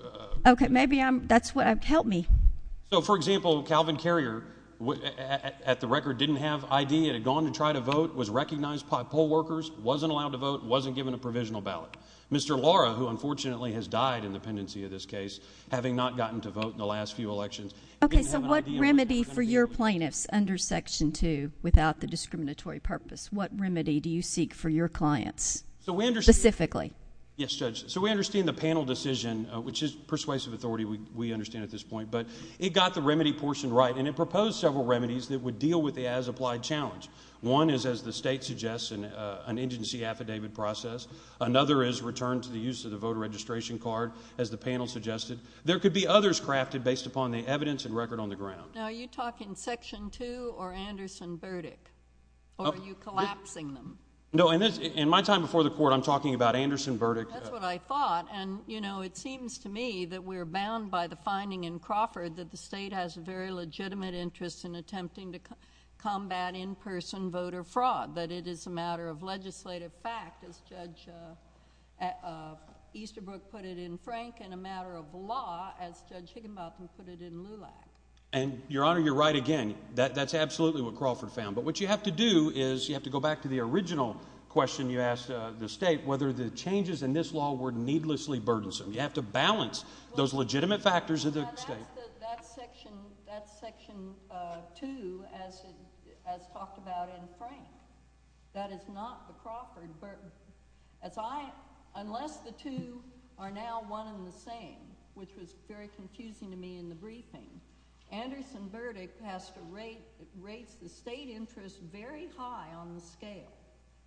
Okay, maybe that's why. Help me. So, for example, Calvin Carrier, at the record, didn't have an ID and had gone and tried to vote, was recognized by poll workers, wasn't allowed to vote, wasn't given a provisional ballot. Mr. Lara, who unfortunately has died in the pendency of this case, having not gotten to vote in the last few elections, didn't have an ID. Okay, so what remedy for your plaintiffs under Section 2 without the discriminatory purpose? What remedy do you seek for your clients specifically? Yes, Judge. So we understand the panel decision, which is persuasive authority, we understand at this point. But it got the remedy portion right, and it proposed several remedies that would deal with the as-applied challenge. One is, as the State suggests, an indigency affidavit process. Another is return to the use of the voter registration card, as the panel suggested. There could be others crafted based upon the evidence and record on the ground. Now, are you talking Section 2 or Anderson verdict? Or are you collapsing them? No, in my time before the Court, I'm talking about Anderson verdict. That's what I thought. And, you know, it seems to me that we're bound by the finding in Crawford that the State has a very legitimate interest in attempting to combat in-person voter fraud. But it is a matter of legislative fact, as Judge Easterbrook put it in Frank, and a matter of law, as Judge Higginbotham put it in Lula. And, Your Honor, you're right again. That's absolutely what Crawford found. But what you have to do is you have to go back to the original question you asked the State, whether the changes in this law were needlessly burdensome. You have to balance those legitimate factors of the State. That's Section 2, as talked about in Frank. That is not the Crawford verdict. Unless the two are now one and the same, which was very confusing to me in the briefing, Anderson verdict has to raise the State interest very high on the scale.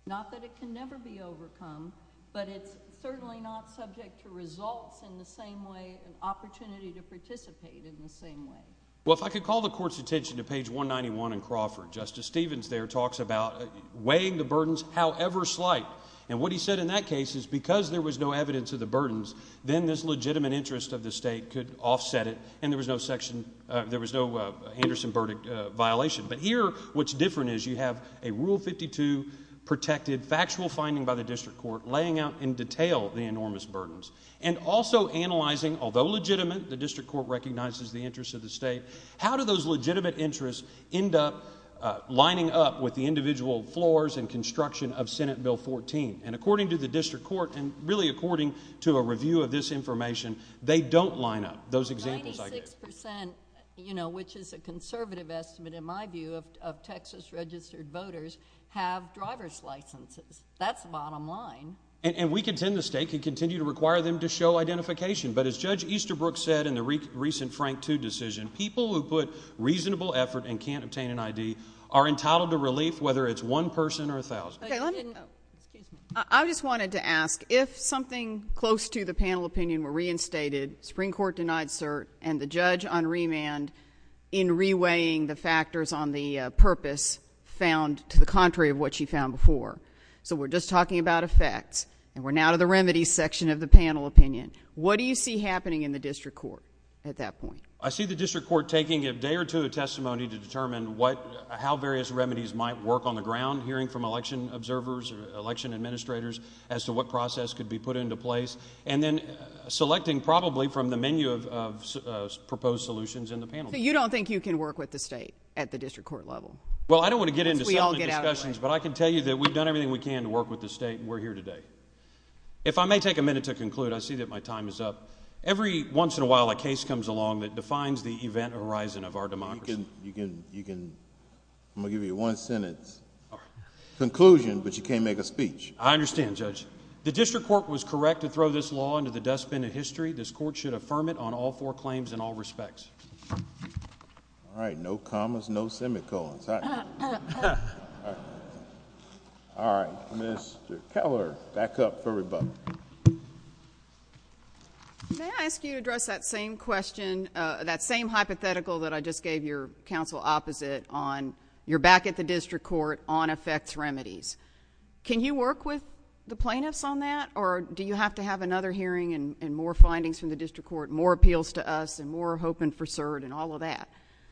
Not that it can never be overcome, but it's certainly not subject to results in the same way and opportunity to participate in the same way. Well, if I could call the Court's attention to page 191 in Crawford. Justice Stevens there talks about weighing the burdens however slight. And what he said in that case is because there was no evidence of the burdens, then this legitimate interest of the State could offset it, and there was no Anderson verdict violation. But here what's different is you have a Rule 52 protected factual finding by the District Court laying out in detail the enormous burdens. And also analyzing, although legitimate, the District Court recognizes the interest of the State, how do those legitimate interests end up lining up with the individual floors and construction of Senate Bill 14? And according to the District Court, and really according to a review of this information, they don't line up, those examples I gave. 96%, you know, which is a conservative estimate in my view of Texas registered voters, have driver's licenses. That's bottom line. And we contend the State could continue to require them to show identification. But as Judge Easterbrook said in the recent Frank Two decision, people who put reasonable effort and can't obtain an ID are entitled to relief whether it's one person or 1,000. I just wanted to ask, if something close to the panel opinion were reinstated, Supreme Court denied cert, and the judge on remand, in reweighing the factors on the purpose, found the contrary of what she found before. So we're just talking about effect, and we're now to the remedies section of the panel opinion. What do you see happening in the District Court at that point? I see the District Court taking a day or two of testimony to determine what, how various remedies might work on the ground, hearing from election observers, election administrators, as to what process could be put into place, and then selecting probably from the menu of proposed solutions in the panel. So you don't think you can work with the State at the District Court level? Well, I don't want to get into some of the discussions, but I can tell you that we've done everything we can to work with the State, and we're here today. If I may take a minute to conclude, I see that my time is up. Every once in a while a case comes along that defines the event horizon of our democracy. I'm going to give you one sentence, a conclusion, but you can't make a speech. I understand, Judge. The District Court was correct to throw this law into the dustbin of history. This Court should affirm it on all four claims in all respects. All right, no commas, no semicolons. All right, Mr. Keller, back up for rebuttal. May I ask you to address that same question, that same hypothetical that I just gave your counsel opposite on, you're back at the District Court on effects remedies. Can you work with the plaintiffs on that, or do you have to have another hearing and more findings from the District Court, more appeals to us, and more hope for CERD and all of that?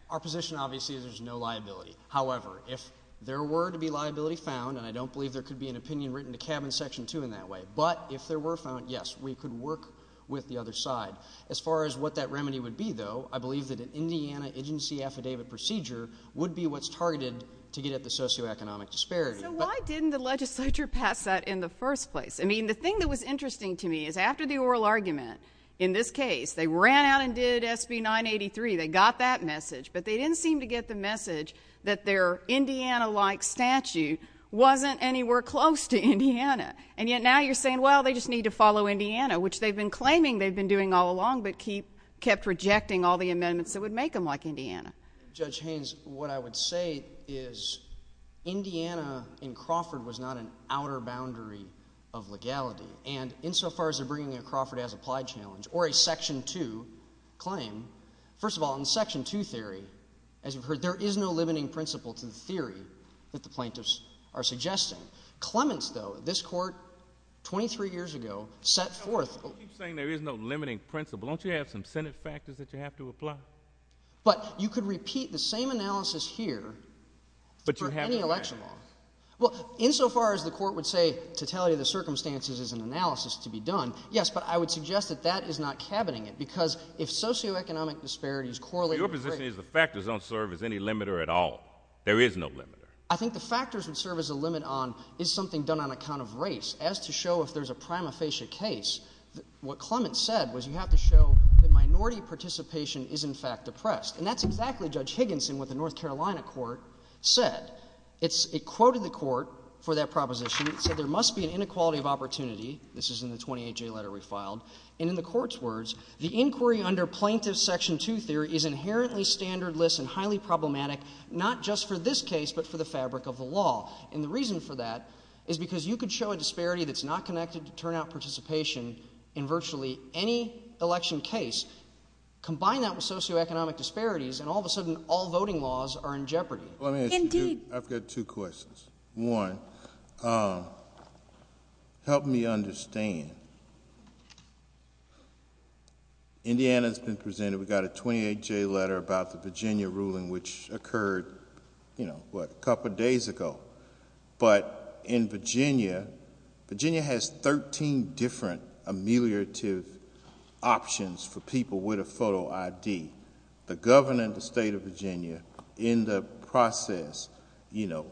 Our position, obviously, is there's no liability. However, if there were to be liability found, and I don't believe there could be an opinion written to Cabin Section 2 in that way, but if there were found, yes, we could work with the other side. As far as what that remedy would be, though, I believe that an Indiana agency affidavit procedure would be what's targeted to get at the socioeconomic disparity. So why didn't the legislature pass that in the first place? I mean, the thing that was interesting to me is after the oral argument, in this case, they ran out and did SB 983, they got that message, but they didn't seem to get the message that their Indiana-like statue wasn't anywhere close to Indiana. And yet now you're saying, well, they just need to follow Indiana, which they've been claiming they've been doing all along but kept rejecting all the amendments that would make them like Indiana. Judge Haynes, what I would say is Indiana in Crawford was not an outer boundary of legality. And insofar as they're bringing in Crawford as applied challenge or a Section 2 claim, first of all, in Section 2 theory, as you've heard, there is no limiting principle to the theory that the plaintiffs are suggesting. Clements, though, this court, 23 years ago, set forth— You keep saying there is no limiting principle. Don't you have some Senate factors that you have to apply? But you could repeat the same analysis here for any election law. Well, insofar as the court would say totality of the circumstances is an analysis to be done, yes, but I would suggest that that is not cabining it because if socioeconomic disparities correlate— Your position is the factors don't serve as any limiter at all. There is no limiter. I think the factors would serve as a limit on is something done on account of race. As to show if there's a prima facie case, what Clements said was you have to show the minority participation is in fact oppressed. And that's exactly, Judge Higginson, what the North Carolina court said. It quoted the court for that proposition. It said there must be an inequality of opportunity. This is in the 28-J letter we filed. And in the court's words, the inquiry under plaintiff's Section 2 theory is inherently standardless and highly problematic not just for this case but for the fabric of the law. And the reason for that is because you could show a disparity that's not connected to turnout participation in virtually any election case, combine that with socioeconomic disparities, and all of a sudden all voting laws are in jeopardy. I've got two questions. One, help me understand. Indiana's been presented. We got a 28-J letter about the Virginia ruling which occurred, you know, what, a couple days ago. But in Virginia, Virginia has 13 different ameliorative options for people with a photo ID. The governor of the state of Virginia in the process, you know,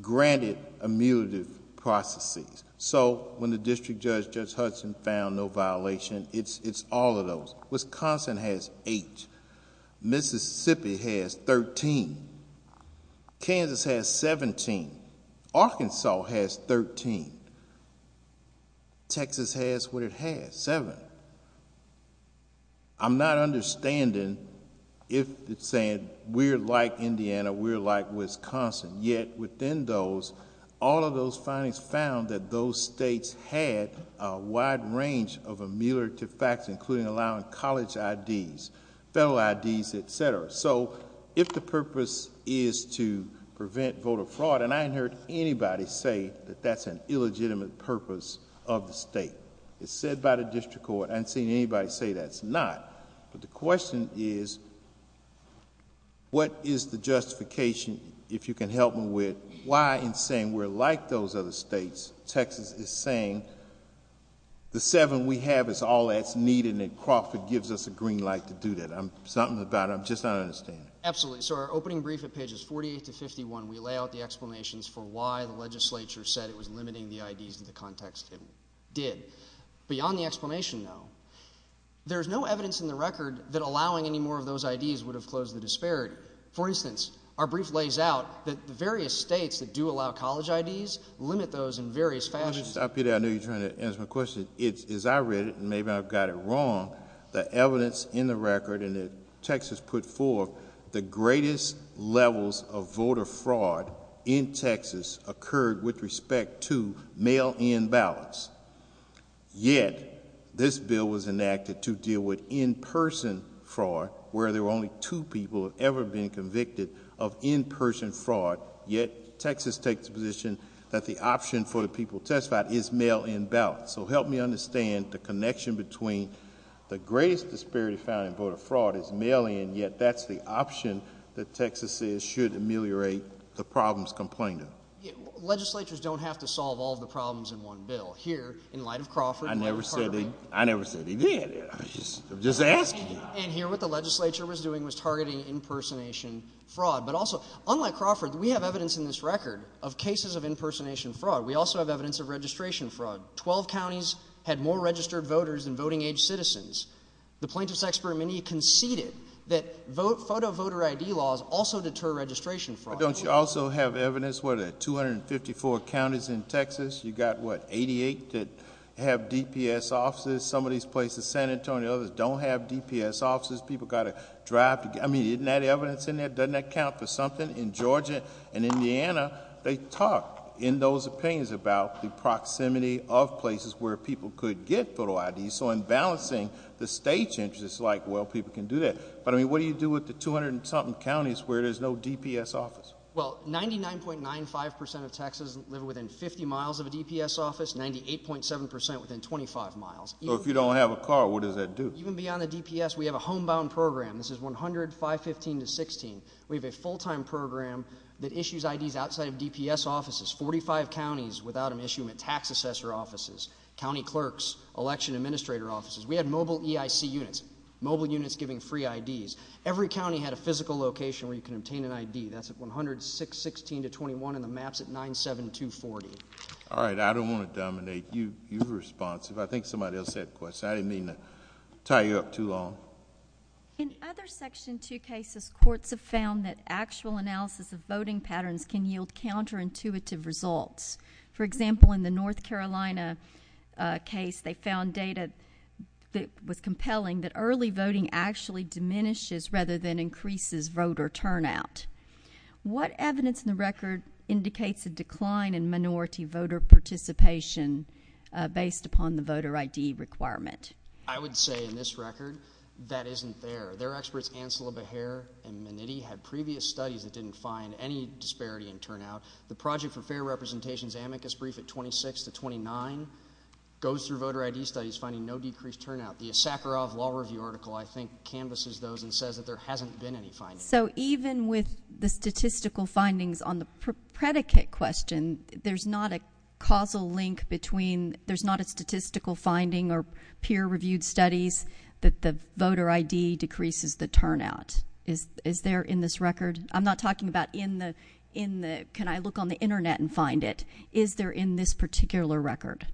granted ameliorative processes. So when the district judge, Judge Hudson, found no violation, it's all of those. Wisconsin has eight. Mississippi has 13. Kansas has 17. Arkansas has 13. Texas has what it has, seven. I'm not understanding if it said we're like Indiana, we're like Wisconsin. Yet within those, all of those findings found that those states had a wide range of ameliorative facts including allowing college IDs, federal IDs, et cetera. So if the purpose is to prevent voter fraud, and I haven't heard anybody say that that's an illegitimate purpose of the state. It's said by the district court. I haven't seen anybody say that's not. But the question is what is the justification, if you can help me with, why in saying we're like those other states, Texas is saying the seven we have is all that's needed and Crawford gives us a green light to do that. There's something about it. I'm just not understanding. Absolutely. So our opening brief at pages 48 to 51, we lay out the explanations for why the legislature said it was limiting the IDs in the context it did. Beyond the explanation, though, there's no evidence in the record that allowing any more of those IDs would have closed the disparity. For instance, our brief lays out that the various states that do allow college IDs limit those in various fashions. Stop you there. I know you're trying to answer my question. As I read it, and maybe I've got it wrong, the evidence in the record and as Texas put forth, the greatest levels of voter fraud in Texas occurred with respect to mail-in ballots. Yet this bill was enacted to deal with in-person fraud where there were only two people ever being convicted of in-person fraud. Yet Texas takes the position that the option for the people to testify is mail-in ballots. So help me understand the connection between the greatest disparity found in voter fraud is mail-in, yet that's the option that Texas says should ameliorate the problems complained of. Legislatures don't have to solve all the problems in one bill. Here, in light of Crawford— I never said he did. I'm just asking. And here what the legislature was doing was targeting in-person fraud. But also, unlike Crawford, we have evidence in this record of cases of in-person fraud. We also have evidence of registration fraud. Twelve counties had more registered voters than voting-age citizens. The plaintiffs' expert committee conceded that photo voter ID laws also deter registration fraud. Don't you also have evidence where there are 254 counties in Texas? You've got, what, 88 that have DPS offices. Some of these places, San Antonio, don't have DPS offices. People got to drive to get— I mean, isn't that evidence in there? Doesn't that count for something? In Georgia and Indiana, they talk in those opinions about the proximity of places where people could get photo IDs. So in balancing the state's interest, it's like, well, people can do that. But, I mean, what do you do with the 200-and-something counties where there's no DPS office? Well, 99.95% of Texans live within 50 miles of a DPS office, 98.7% within 25 miles. So if you don't have a car, what does that do? Even beyond a DPS, we have a homebound program. This is 100, 515 to 16. We have a full-time program that issues IDs outside of DPS offices. Forty-five counties without an issue have tax assessor offices, county clerks, election administrator offices. We have mobile EIC units, mobile units giving free IDs. Every county had a physical location where you can obtain an ID. That's at 100, 616 to 21 in the maps at 97240. All right. I don't want to dominate. You're responsive. I think somebody else had a question. I didn't mean to tie you up too long. In other Section 2 cases, courts have found that actual analysis of voting patterns can yield counterintuitive results. For example, in the North Carolina case, they found data that was compelling, that early voting actually diminishes rather than increases voter turnout. What evidence in the record indicates a decline in minority voter participation based upon the voter ID requirement? I would say in this record that isn't there. There are experts, Ansela Behar and Maniti, had previous studies that didn't find any disparity in turnout. The Project for Fair Representation's amicus brief at 26 to 29 goes through voter ID studies finding no decreased turnout. The Sakharov Law Review article, I think, canvases those and says that there hasn't been any findings. So even with the statistical findings on the predicate question, there's not a causal link between, there's not a statistical finding or peer-reviewed studies that the voter ID decreases the turnout. Is there in this record? I'm not talking about in the, can I look on the Internet and find it. Is there in this particular record?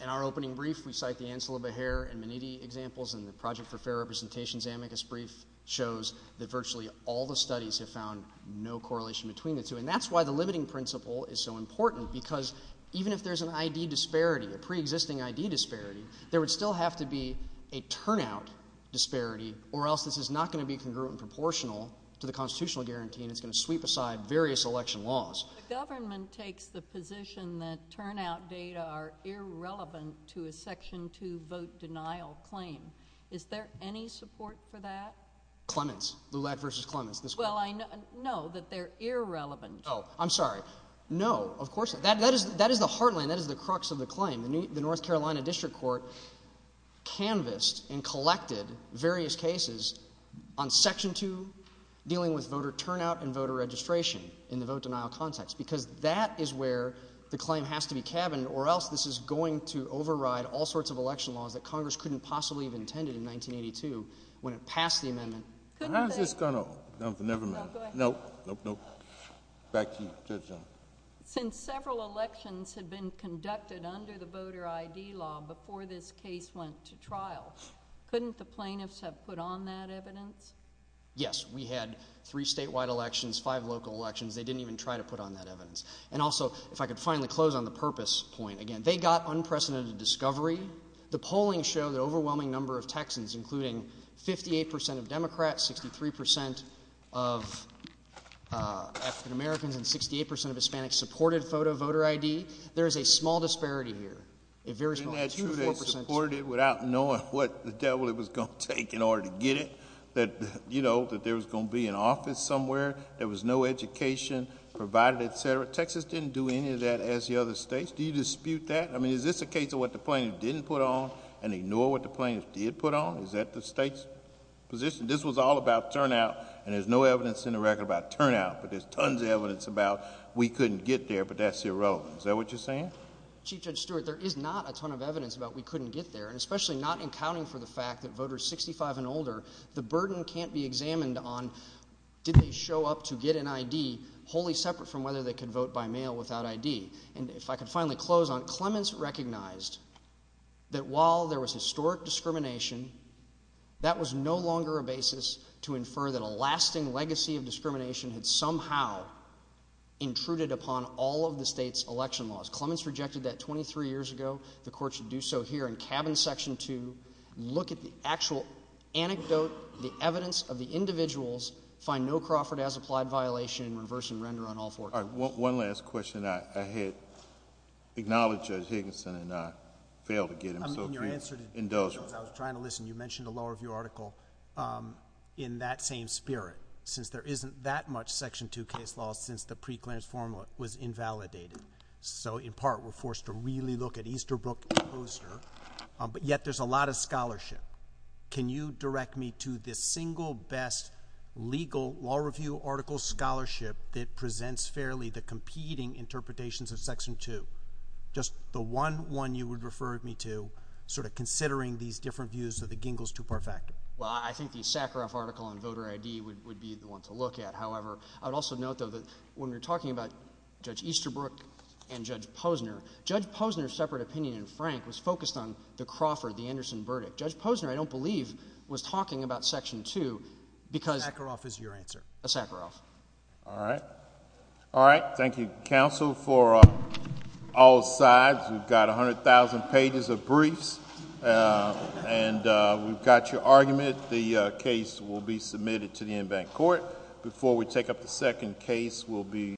In our opening brief, we cite the Ansela Behar and Maniti examples, and the Project for Fair Representation's amicus brief shows that virtually all the studies have found no correlation between the two. And that's why the limiting principle is so important, because even if there's an ID disparity, a pre-existing ID disparity, there would still have to be a turnout disparity, or else this is not going to be congruent and proportional to the constitutional guarantee, and it's going to sweep aside various election laws. The government takes the position that turnout data are irrelevant to a Section 2 vote denial claim. Is there any support for that? Clemens, Lulac v. Clemens. Well, I know that they're irrelevant. Oh, I'm sorry. No, of course not. That is the heartland, that is the crux of the claim. The North Carolina District Court canvassed and collected various cases on Section 2, dealing with voter turnout and voter registration in the vote denial context, because that is where the claim has to be tabbed, or else this is going to override all sorts of election laws that Congress couldn't possibly have intended in 1982 when it passed the amendment. I'm just going to—never mind. Nope, nope, nope. Back to John. Since several elections had been conducted under the voter ID law before this case went to trial, couldn't the plaintiffs have put on that evidence? Yes, we had three statewide elections, five local elections. They didn't even try to put on that evidence. And also, if I could finally close on the purpose point again. They got unprecedented discovery. The polling showed an overwhelming number of Texans, including 58 percent of Democrats, 63 percent of African Americans, and 68 percent of Hispanics supported voter ID. There is a small disparity here. Isn't that true, they supported it without knowing what the devil it was going to take in order to get it, that there was going to be an office somewhere, there was no education provided, et cetera? Texas didn't do any of that, as the other states. Do you dispute that? I mean, is this a case of what the plaintiffs didn't put on and ignore what the plaintiffs did put on? Is that the state's position? This was all about turnout, and there's no evidence in the record about turnout, but there's tons of evidence about we couldn't get there, but that's irrelevant. Is that what you're saying? Chief Judge Stewart, there is not a ton of evidence about we couldn't get there, especially not in counting for the fact that voters 65 and older, the burden can't be examined on did they show up to get an ID, wholly separate from whether they can vote by mail without ID. And if I could finally close on it, Clements recognized that while there was historic discrimination, that was no longer a basis to infer that a lasting legacy of discrimination had somehow intruded upon all of the state's election laws. Clements rejected that 23 years ago. The court should do so here in Cabin Section 2. Look at the actual anecdote, the evidence of the individuals, find no Crawford as applied violation, and reverse and render on all four. All right. One last question. I had acknowledged Judge Higginson, and I failed to get him to indulge. I was trying to listen. You mentioned the law review article. In that same spirit, since there isn't that much Section 2 case law since the pre-grants formula was invalidated, so in part we're forced to really look at Easterbrook closer, but yet there's a lot of scholarship. Can you direct me to the single best legal law review article scholarship that presents fairly the competing interpretations of Section 2? Just the one one you would refer me to, sort of considering these different views of the Gingels to Parfait. Well, I think the Sakharov article on voter ID would be the one to look at. However, I'd also note, though, that when you're talking about Judge Easterbrook and Judge Posner, Judge Posner's separate opinion in Frank was focused on the Crawford, the Anderson verdict. Judge Posner, I don't believe, was talking about Section 2 because Sakharov is your answer. All right. All right. Thank you, counsel, for all sides. We've got 100,000 pages of briefs, and we've got your argument. The case will be submitted to the in-bank court. Before we take up the second case, we'll be—